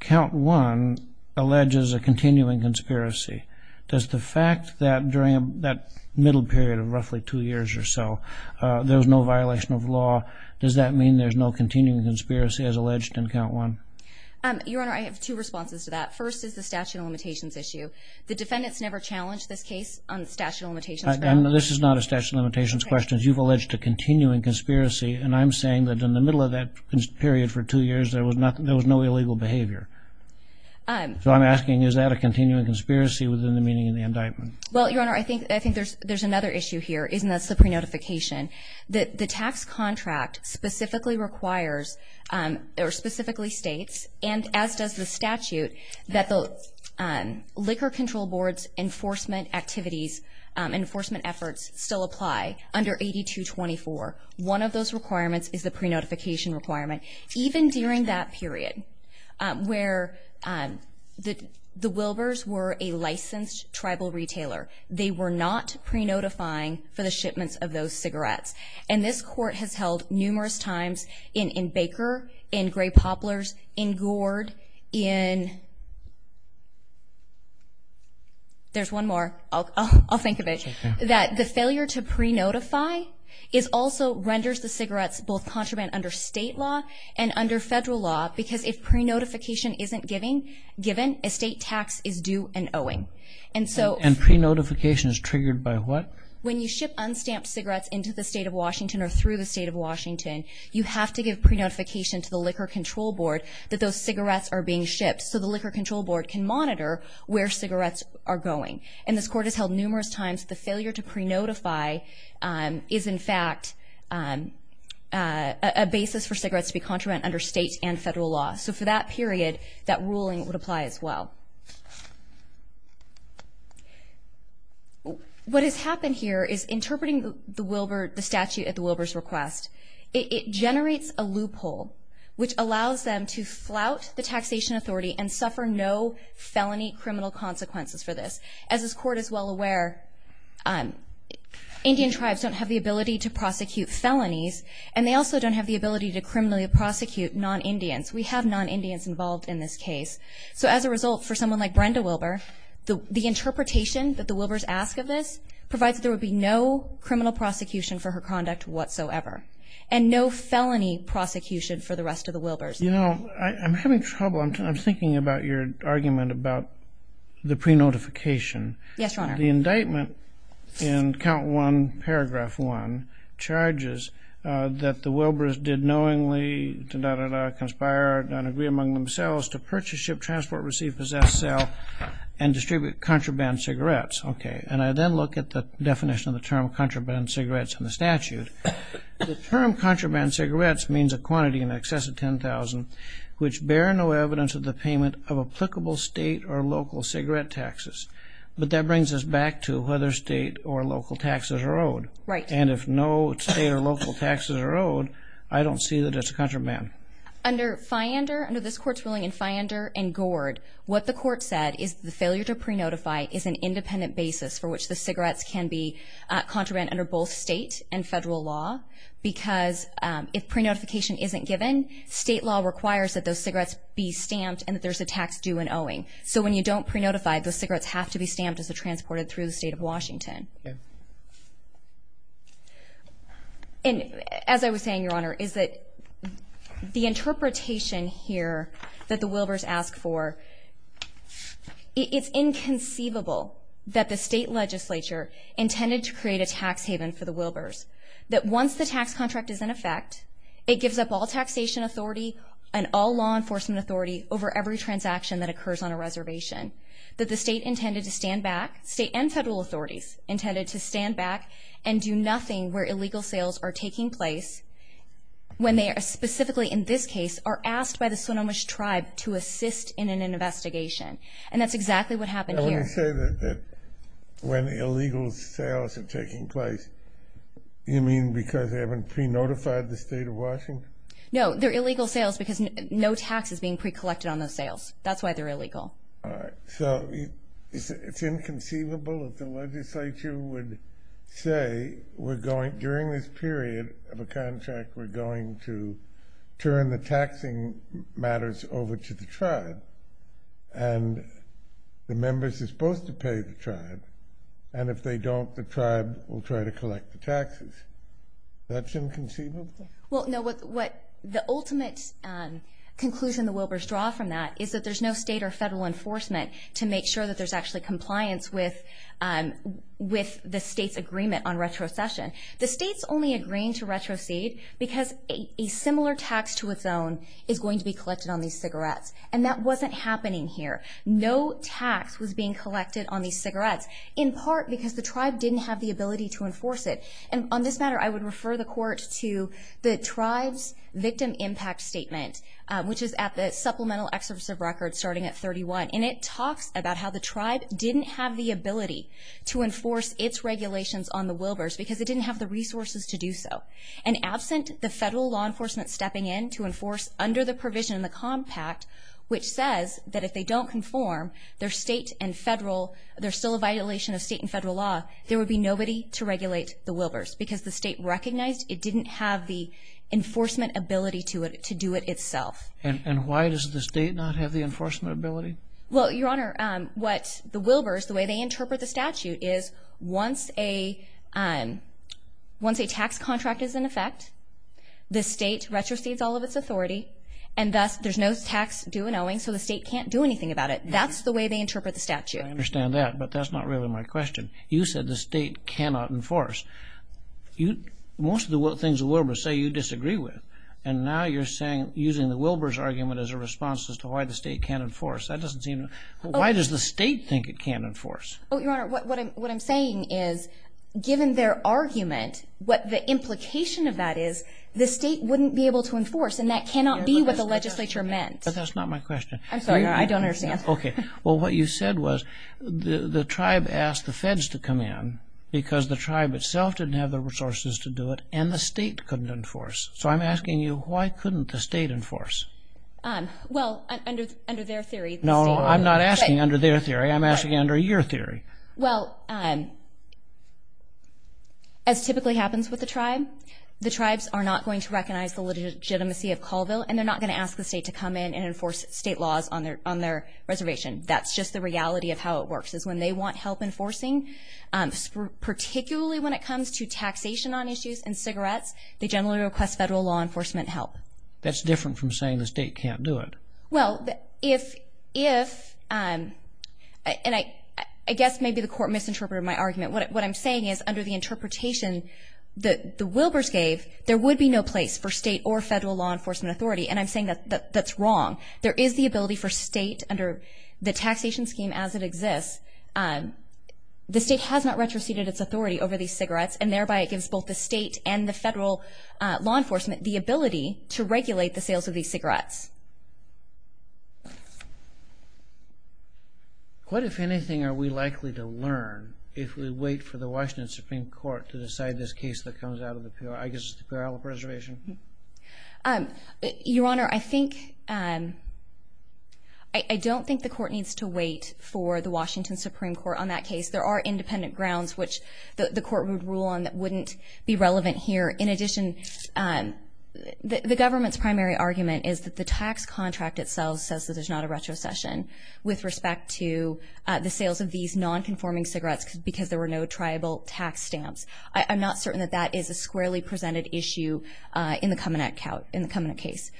count one alleges a continuing conspiracy. Does the fact that during that middle period of roughly two years or so, there was no violation of law, does that mean there's no continuing conspiracy as alleged in count one? Your Honor, I have two responses to that. First is the statute of limitations issue. The defendants never challenged this case on the statute of limitations. This is not a statute of limitations question. You've alleged a continuing conspiracy, and I'm saying that in the middle of that period for two years there was no illegal behavior. So I'm asking is that a continuing conspiracy within the meaning of the indictment? Well, Your Honor, I think there's another issue here, and that's the pre-notification. The tax contract specifically requires or specifically states, and as does the statute, that the Liquor Control Board's enforcement activities, enforcement efforts still apply under 8224. One of those requirements is the pre-notification requirement. Even during that period where the Wilbers were a licensed tribal retailer, they were not pre-notifying for the shipments of those cigarettes. And this court has held numerous times in Baker, in Gray Poplar's, in Gord, in there's one more. I'll think of it. That the failure to pre-notify also renders the cigarettes both contraband under state law and under federal law because if pre-notification isn't given, a state tax is due and owing. And pre-notification is triggered by what? When you ship unstamped cigarettes into the state of Washington or through the state of Washington, you have to give pre-notification to the Liquor Control Board that those cigarettes are being shipped so the Liquor Control Board can monitor where cigarettes are going. And this court has held numerous times the failure to pre-notify is, in fact, a basis for cigarettes to be contraband under state and federal law. So for that period, that ruling would apply as well. What has happened here is interpreting the statute at the Wilbers' request, it generates a loophole which allows them to flout the taxation authority and suffer no felony criminal consequences for this. As this court is well aware, Indian tribes don't have the ability to prosecute felonies and they also don't have the ability to criminally prosecute non-Indians. We have non-Indians involved in this case. So as a result, for someone like Brenda Wilber, the interpretation that the Wilbers ask of this provides there would be no criminal prosecution for her conduct whatsoever and no felony prosecution for the rest of the Wilbers. You know, I'm having trouble. I'm thinking about your argument about the pre-notification. Yes, Your Honor. The indictment in Count 1, Paragraph 1 charges that the Wilbers did knowingly, da-da-da-da, conspire and agree among themselves to purchase, ship, transport, receive, possess, sell and distribute contraband cigarettes. Okay. And I then look at the definition of the term contraband cigarettes in the statute. The term contraband cigarettes means a quantity in excess of 10,000 which bear no evidence of the payment of applicable state or local cigarette taxes. But that brings us back to whether state or local taxes are owed. Right. And if no state or local taxes are owed, I don't see that it's a contraband. Under Fyander, under this court's ruling in Fyander and Gord, what the court said is the failure to pre-notify is an independent basis for which the cigarettes can be contraband under both state and federal law because if pre-notification isn't given, state law requires that those cigarettes be stamped and that there's a tax due in owing. So when you don't pre-notify, the cigarettes have to be stamped as they're transported through the state of Washington. Okay. And as I was saying, Your Honor, is that the interpretation here that the Wilbers ask for, it's inconceivable that the state legislature intended to create a tax haven for the Wilbers, that once the tax contract is in effect, it gives up all taxation authority and all law enforcement authority over every transaction that occurs on a reservation, that the state intended to stand back, state and federal authorities intended to stand back and do nothing where illegal sales are taking place when they are specifically, in this case, are asked by the Sonomish tribe to assist in an investigation. And that's exactly what happened here. Now, when you say that when illegal sales are taking place, you mean because they haven't pre-notified the state of Washington? No, they're illegal sales because no tax is being pre-collected on those sales. That's why they're illegal. All right. So it's inconceivable that the legislature would say, during this period of a contract, we're going to turn the taxing matters over to the tribe and the members are supposed to pay the tribe, and if they don't, the tribe will try to collect the taxes. That's inconceivable? Well, no, what the ultimate conclusion the Wilbers draw from that is that there's no state or federal enforcement to make sure that there's actually compliance with the state's agreement on retrocession. The state's only agreeing to retrocede because a similar tax to its own is going to be collected on these cigarettes. And that wasn't happening here. No tax was being collected on these cigarettes, in part because the tribe didn't have the ability to enforce it. And on this matter, I would refer the court to the tribe's victim impact statement, which is at the Supplemental Excerpts of Records starting at 31, and it talks about how the tribe didn't have the ability to enforce its regulations on the Wilbers because it didn't have the resources to do so. And absent the federal law enforcement stepping in to enforce under the provision in the Compact, which says that if they don't conform, there's still a violation of state and federal law, there would be nobody to regulate the Wilbers because the state recognized it didn't have the enforcement ability to do it itself. And why does the state not have the enforcement ability? Well, Your Honor, what the Wilbers, the way they interpret the statute, is once a tax contract is in effect, the state retrocedes all of its authority, and thus there's no tax due and owing, so the state can't do anything about it. That's the way they interpret the statute. I understand that, but that's not really my question. You said the state cannot enforce. Most of the things the Wilbers say you disagree with, and now you're using the Wilbers argument as a response as to why the state can't enforce. Why does the state think it can't enforce? Your Honor, what I'm saying is, given their argument, what the implication of that is, the state wouldn't be able to enforce, and that cannot be what the legislature meant. But that's not my question. I'm sorry, Your Honor, I don't understand. Okay. Well, what you said was the tribe asked the feds to come in because the tribe itself didn't have the resources to do it, and the state couldn't enforce. So I'm asking you, why couldn't the state enforce? Well, under their theory... No, I'm not asking under their theory. I'm asking under your theory. Well, as typically happens with the tribe, the tribes are not going to recognize the legitimacy of Colville, and they're not going to ask the state to come in and enforce state laws on their reservation. That's just the reality of how it works, is when they want help enforcing, particularly when it comes to taxation on issues and cigarettes, they generally request federal law enforcement help. That's different from saying the state can't do it. Well, if, and I guess maybe the court misinterpreted my argument. What I'm saying is under the interpretation that the Wilbers gave, there would be no place for state or federal law enforcement authority, and I'm saying that that's wrong. There is the ability for state under the taxation scheme as it exists. The state has not retroceded its authority over these cigarettes, and thereby it gives both the state and the federal law enforcement the ability to regulate the sales of these cigarettes. What, if anything, are we likely to learn if we wait for the Washington Supreme Court to decide this case that comes out of the Puyallup Reservation? Your Honor, I don't think the court needs to wait for the Washington Supreme Court on that case. There are independent grounds which the court would rule on that wouldn't be relevant here. In addition, the government's primary argument is that the tax contract itself says that there's not a retrocession with respect to the sales of these non-conforming cigarettes because there were no tribal tax stamps. I'm not certain that that is a squarely presented issue in the Kaminak case.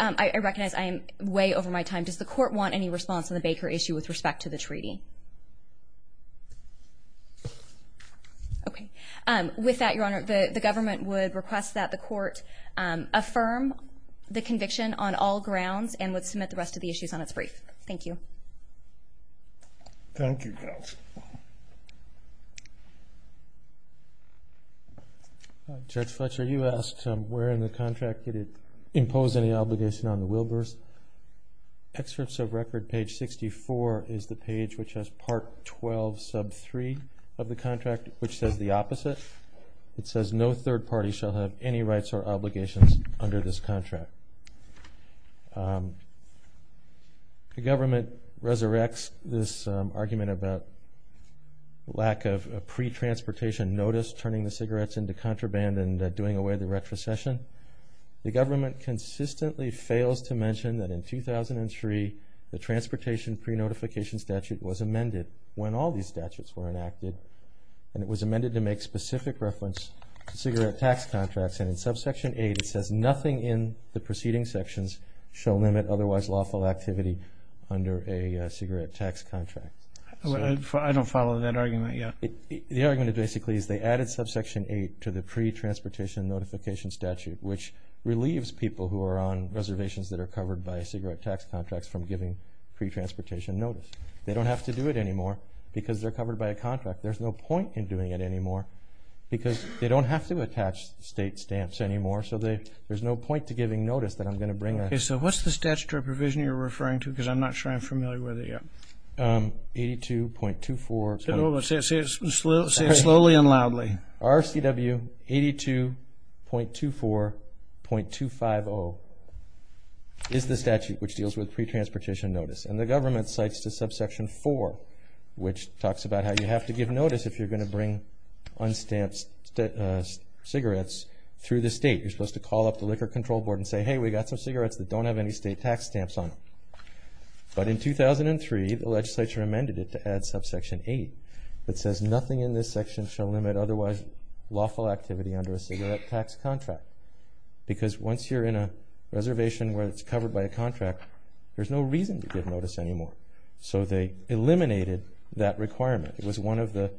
I recognize I am way over my time. with respect to the treaty? Okay. With that, Your Honor, the government would request that the court affirm the conviction on all grounds and would submit the rest of the issues on its brief. Thank you. Thank you, counsel. Judge Fletcher, you asked where in the contract did it impose any obligation on the Wilbers. Excerpts of record page 64 is the page which has part 12 sub 3 of the contract which says the opposite. It says no third party shall have any rights or obligations under this contract. The government resurrects this argument about lack of a pre-transportation notice turning the cigarettes into contraband and doing away with the retrocession. The government consistently fails to mention that in 2003 the transportation pre-notification statute was amended when all these statutes were enacted and it was amended to make specific reference to cigarette tax contracts and in subsection 8 it says nothing in the preceding sections shall limit otherwise lawful activity under a cigarette tax contract. I don't follow that argument yet. The argument basically is they added subsection 8 to the pre-transportation notification statute which relieves people who are on reservations that are covered by cigarette tax contracts from giving pre-transportation notice. They don't have to do it anymore because they're covered by a contract. There's no point in doing it anymore because they don't have to attach state stamps anymore so there's no point to giving notice that I'm going to bring. So what's the statutory provision you're referring to because I'm not sure I'm familiar with it yet. 82.24. Say it slowly and loudly. RCW 82.24.250 is the statute which deals with pre-transportation notice and the government cites to subsection 4 which talks about how you have to give notice if you're going to bring un-stamped cigarettes through the state. You're supposed to call up the liquor control board and say hey we got some cigarettes that don't have any state tax stamps on them. But in 2003 the legislature amended it to add subsection 8 that says nothing in this section shall limit otherwise lawful activity under a cigarette tax contract. Because once you're in a reservation where it's covered by a contract there's no reason to give notice anymore. So they eliminated that requirement. It was one of the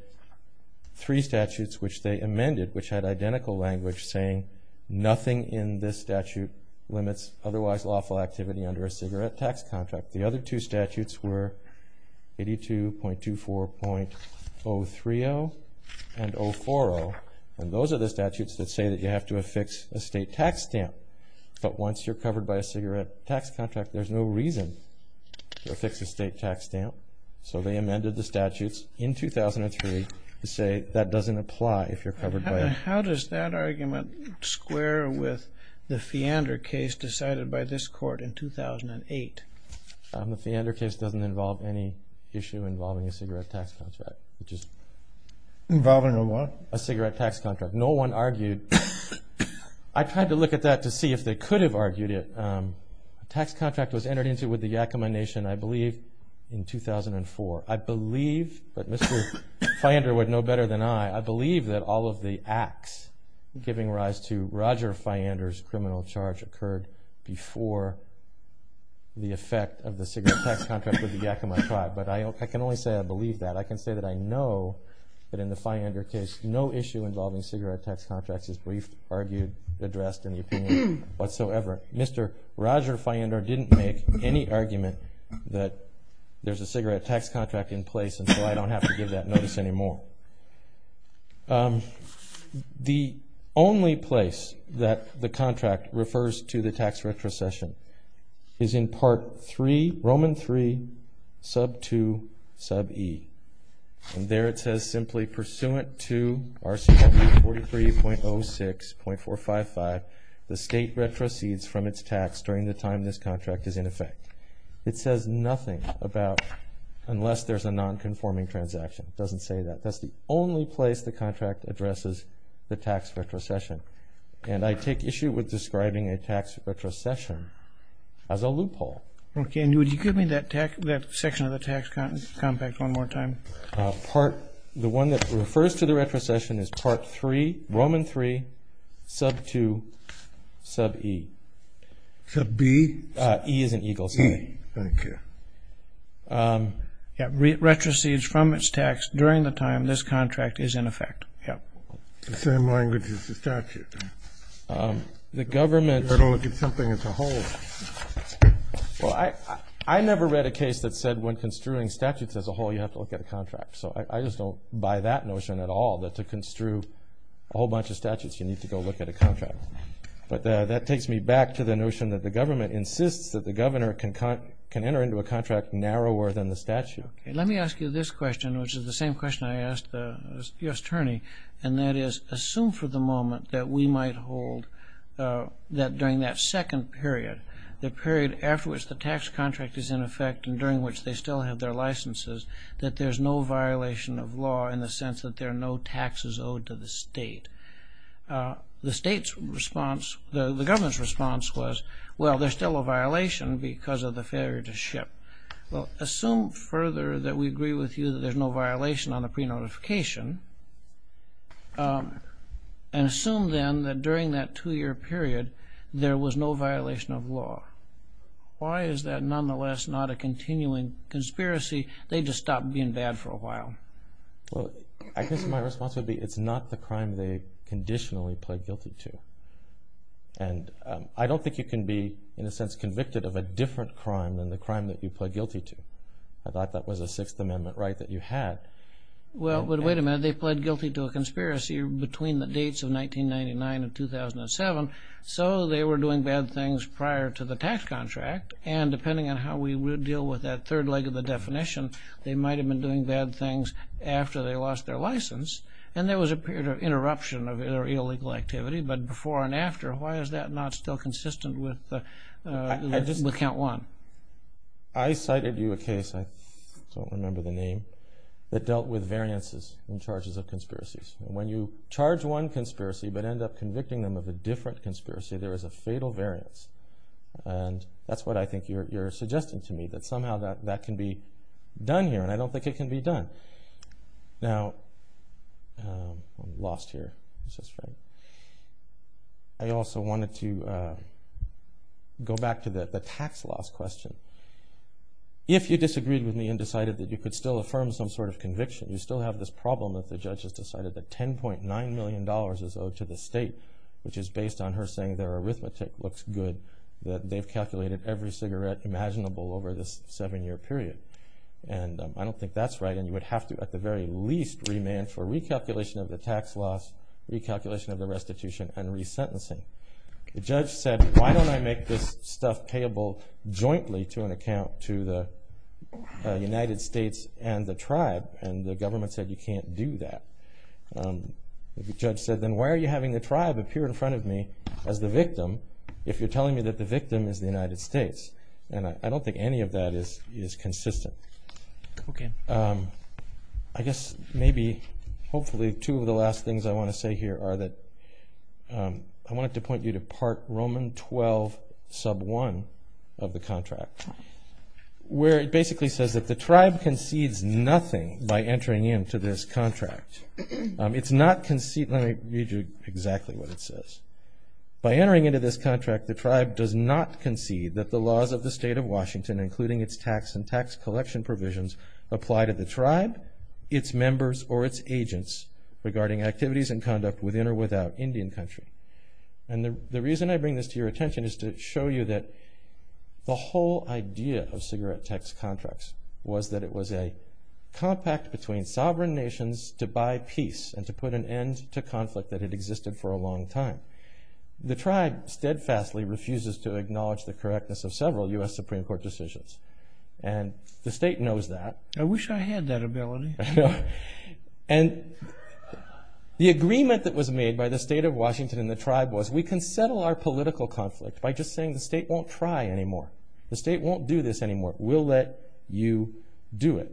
three statutes which they amended which had identical language saying nothing in this statute limits otherwise lawful activity under a cigarette tax contract. The other two statutes were 82.24.030 and 040 and those are the statutes that say that you have to affix a state tax stamp. But once you're covered by a cigarette tax contract there's no reason to affix a state tax stamp. So they amended the statutes in 2003 to say that doesn't apply if you're covered by them. How does that argument square with the Feander case decided by this court in 2008? The Feander case doesn't involve any issue involving a cigarette tax contract. Involving a what? A cigarette tax contract. No one argued. I tried to look at that to see if they could have argued it. A tax contract was entered into with the Yakama Nation I believe in 2004. I believe, but Mr. Feander would know better than I, I believe that all of the acts giving rise to Roger Feander's criminal charge occurred before the effect of the cigarette tax contract with the Yakama tribe. But I can only say I believe that. I can say that I know that in the Feander case no issue involving cigarette tax contracts is briefed, argued, addressed in the opinion whatsoever. Mr. Roger Feander didn't make any argument that there's a cigarette tax contract in place and so I don't have to give that notice anymore. The only place that the contract refers to the tax retrocession is in Part 3, Roman 3, Sub 2, Sub E. And there it says simply, pursuant to RCW 43.06.455, the state retrocedes from its tax during the time this contract is in effect. It says nothing about unless there's a non-conforming transaction. It doesn't say that. That's the only place the contract addresses the tax retrocession. And I take issue with describing a tax retrocession as a loophole. Okay, and would you give me that section of the tax compact one more time? The one that refers to the retrocession is Part 3, Roman 3, Sub 2, Sub E. Sub B? E is in Eagle City. E, thank you. Yeah, retrocedes from its tax during the time this contract is in effect. Yeah. The same language as the statute. The government... You've got to look at something as a whole. Well, I never read a case that said when construing statutes as a whole, you have to look at a contract. So I just don't buy that notion at all, that to construe a whole bunch of statutes, you need to go look at a contract. But that takes me back to the notion that the government insists that the governor can enter into a contract narrower than the statute. Let me ask you this question, which is the same question I asked the U.S. attorney, and that is assume for the moment that we might hold that during that second period, the period after which the tax contract is in effect and during which they still have their licenses, that there's no violation of law in the sense that there are no taxes owed to the state. The state's response, the government's response was, well, there's still a violation because of the failure to ship. Well, assume further that we agree with you that there's no violation on the pre-notification and assume then that during that two-year period there was no violation of law. Why is that nonetheless not a continuing conspiracy? They just stopped being bad for a while. Well, I guess my response would be it's not the crime they conditionally pled guilty to. And I don't think you can be in a sense convicted of a different crime than the crime that you pled guilty to. I thought that was a Sixth Amendment right that you had. Well, but wait a minute. They pled guilty to a conspiracy between the dates of 1999 and 2007, so they were doing bad things prior to the tax contract, and depending on how we deal with that third leg of the definition, they might have been doing bad things after they lost their license, and there was a period of interruption of illegal activity, but before and after, why is that not still consistent with Count 1? I cited you a case, I don't remember the name, that dealt with variances in charges of conspiracies. When you charge one conspiracy but end up convicting them of a different conspiracy, there is a fatal variance. And that's what I think you're suggesting to me, that somehow that can be done here, and I don't think it can be done. Now, I'm lost here. I also wanted to go back to the tax loss question. If you disagreed with me and decided that you could still affirm some sort of conviction, you still have this problem that the judge has decided that $10.9 million is owed to the state, which is based on her saying their arithmetic looks good, that they've calculated every cigarette imaginable over this seven-year period. And I don't think that's right, and you would have to at the very least remand for recalculation of the tax loss, recalculation of the restitution, and resentencing. The judge said, why don't I make this stuff payable jointly to an account to the United States and the tribe? And the government said, you can't do that. The judge said, then why are you having the tribe appear in front of me as the victim if you're telling me that the victim is the United States? And I don't think any of that is consistent. Okay. I guess maybe hopefully two of the last things I want to say here are that I wanted to point you to Part Roman 12, Sub 1 of the contract, where it basically says that the tribe concedes nothing by entering into this contract. It's not conceded. Let me read you exactly what it says. By entering into this contract, the tribe does not concede that the laws of the state of Washington, including its tax and tax collection provisions, apply to the tribe, its members, or its agents regarding activities and conduct within or without Indian country. And the reason I bring this to your attention is to show you that the whole idea of cigarette tax contracts was that it was a compact between sovereign nations to buy peace and to put an end to conflict that had existed for a long time. The tribe steadfastly refuses to acknowledge the correctness of several U.S. Supreme Court decisions. And the state knows that. I wish I had that ability. And the agreement that was made by the state of Washington and the tribe was we can settle our political conflict by just saying the state won't try anymore. The state won't do this anymore. We'll let you do it.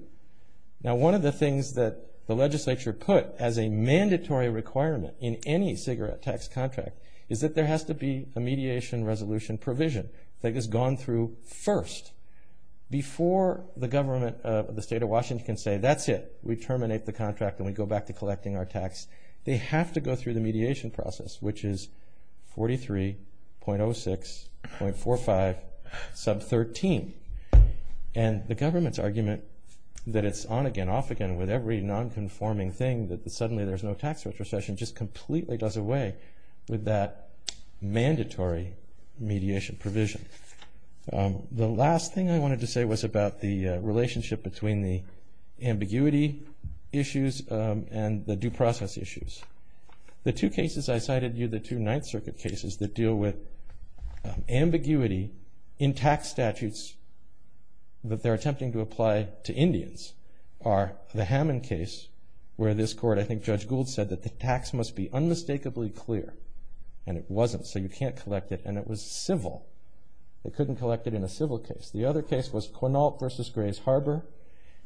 Now, one of the things that the legislature put as a mandatory requirement in any cigarette tax contract is that there has to be a mediation resolution provision that has gone through first. Before the government of the state of Washington can say, that's it, we terminate the contract and we go back to collecting our tax, they have to go through the mediation process, which is 43.06.45 sub 13. And the government's argument that it's on again, off again with every non-conforming thing, that suddenly there's no tax retrocession, just completely does away with that mandatory mediation provision. The last thing I wanted to say was about the relationship between the ambiguity issues and the due process issues. The two cases I cited you, the two Ninth Circuit cases that deal with ambiguity in tax statutes that they're attempting to apply to Indians are the Hammond case where this court, I think Judge Gould said that the tax must be unmistakably clear. And it wasn't, so you can't collect it. And it was civil. They couldn't collect it in a civil case. The other case was Quinault versus Grays Harbor.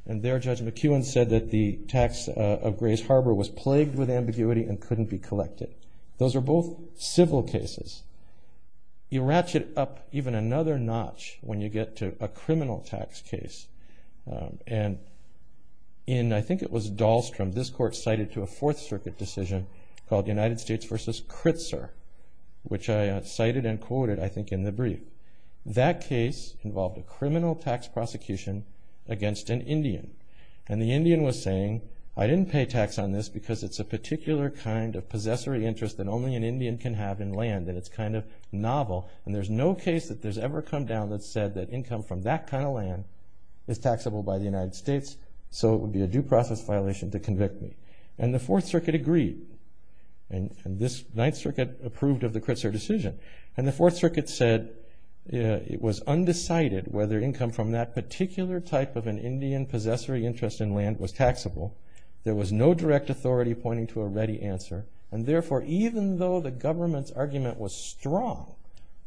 And there Judge McKeown said that the tax of Grays Harbor was plagued with ambiguity and couldn't be collected. Those are both civil cases. You ratchet up even another notch when you get to a criminal tax case. And in, I think it was Dahlstrom, this court cited to a Fourth Circuit decision called United States versus Kritzer, which I cited and quoted, I think, in the brief. That case involved a criminal tax prosecution against an Indian. And the Indian was saying, I didn't pay tax on this because it's a particular kind of possessory interest that only an Indian can have in land and it's kind of novel and there's no case that there's ever come down that said that income from that kind of land is taxable by the United States, so it would be a due process violation to convict me. And the Fourth Circuit agreed. And this Ninth Circuit approved of the Kritzer decision. And the Fourth Circuit said it was undecided whether income from that particular type of an Indian possessory interest in land was taxable. There was no direct authority pointing to a ready answer. And therefore, even though the government's argument was strong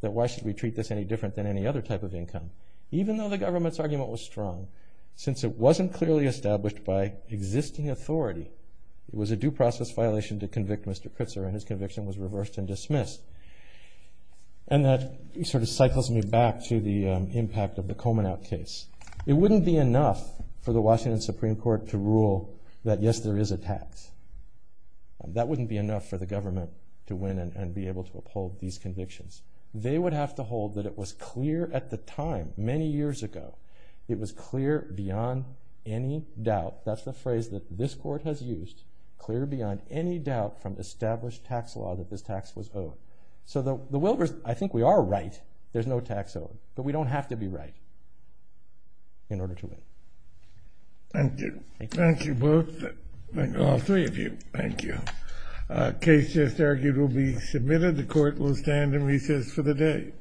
that why should we treat this any different than any other type of income, even though the government's argument was strong, since it wasn't clearly established by existing authority, it was a due process violation to convict Mr. Kritzer and his conviction was reversed and dismissed. And that sort of cycles me back to the impact of the Komenaut case. It wouldn't be enough for the Washington Supreme Court to rule that, yes, there is a tax. That wouldn't be enough for the government to win and be able to uphold these convictions. They would have to hold that it was clear at the time, many years ago, it was clear beyond any doubt, that's the phrase that this court has used, clear beyond any doubt from established tax law that this tax was owed. So the Wilbers, I think we are right. There's no tax owed. But we don't have to be right in order to win. Thank you. Thank you both. Thank all three of you. Thank you. Case just argued will be submitted. The court will stand and recess for the day. Thank you.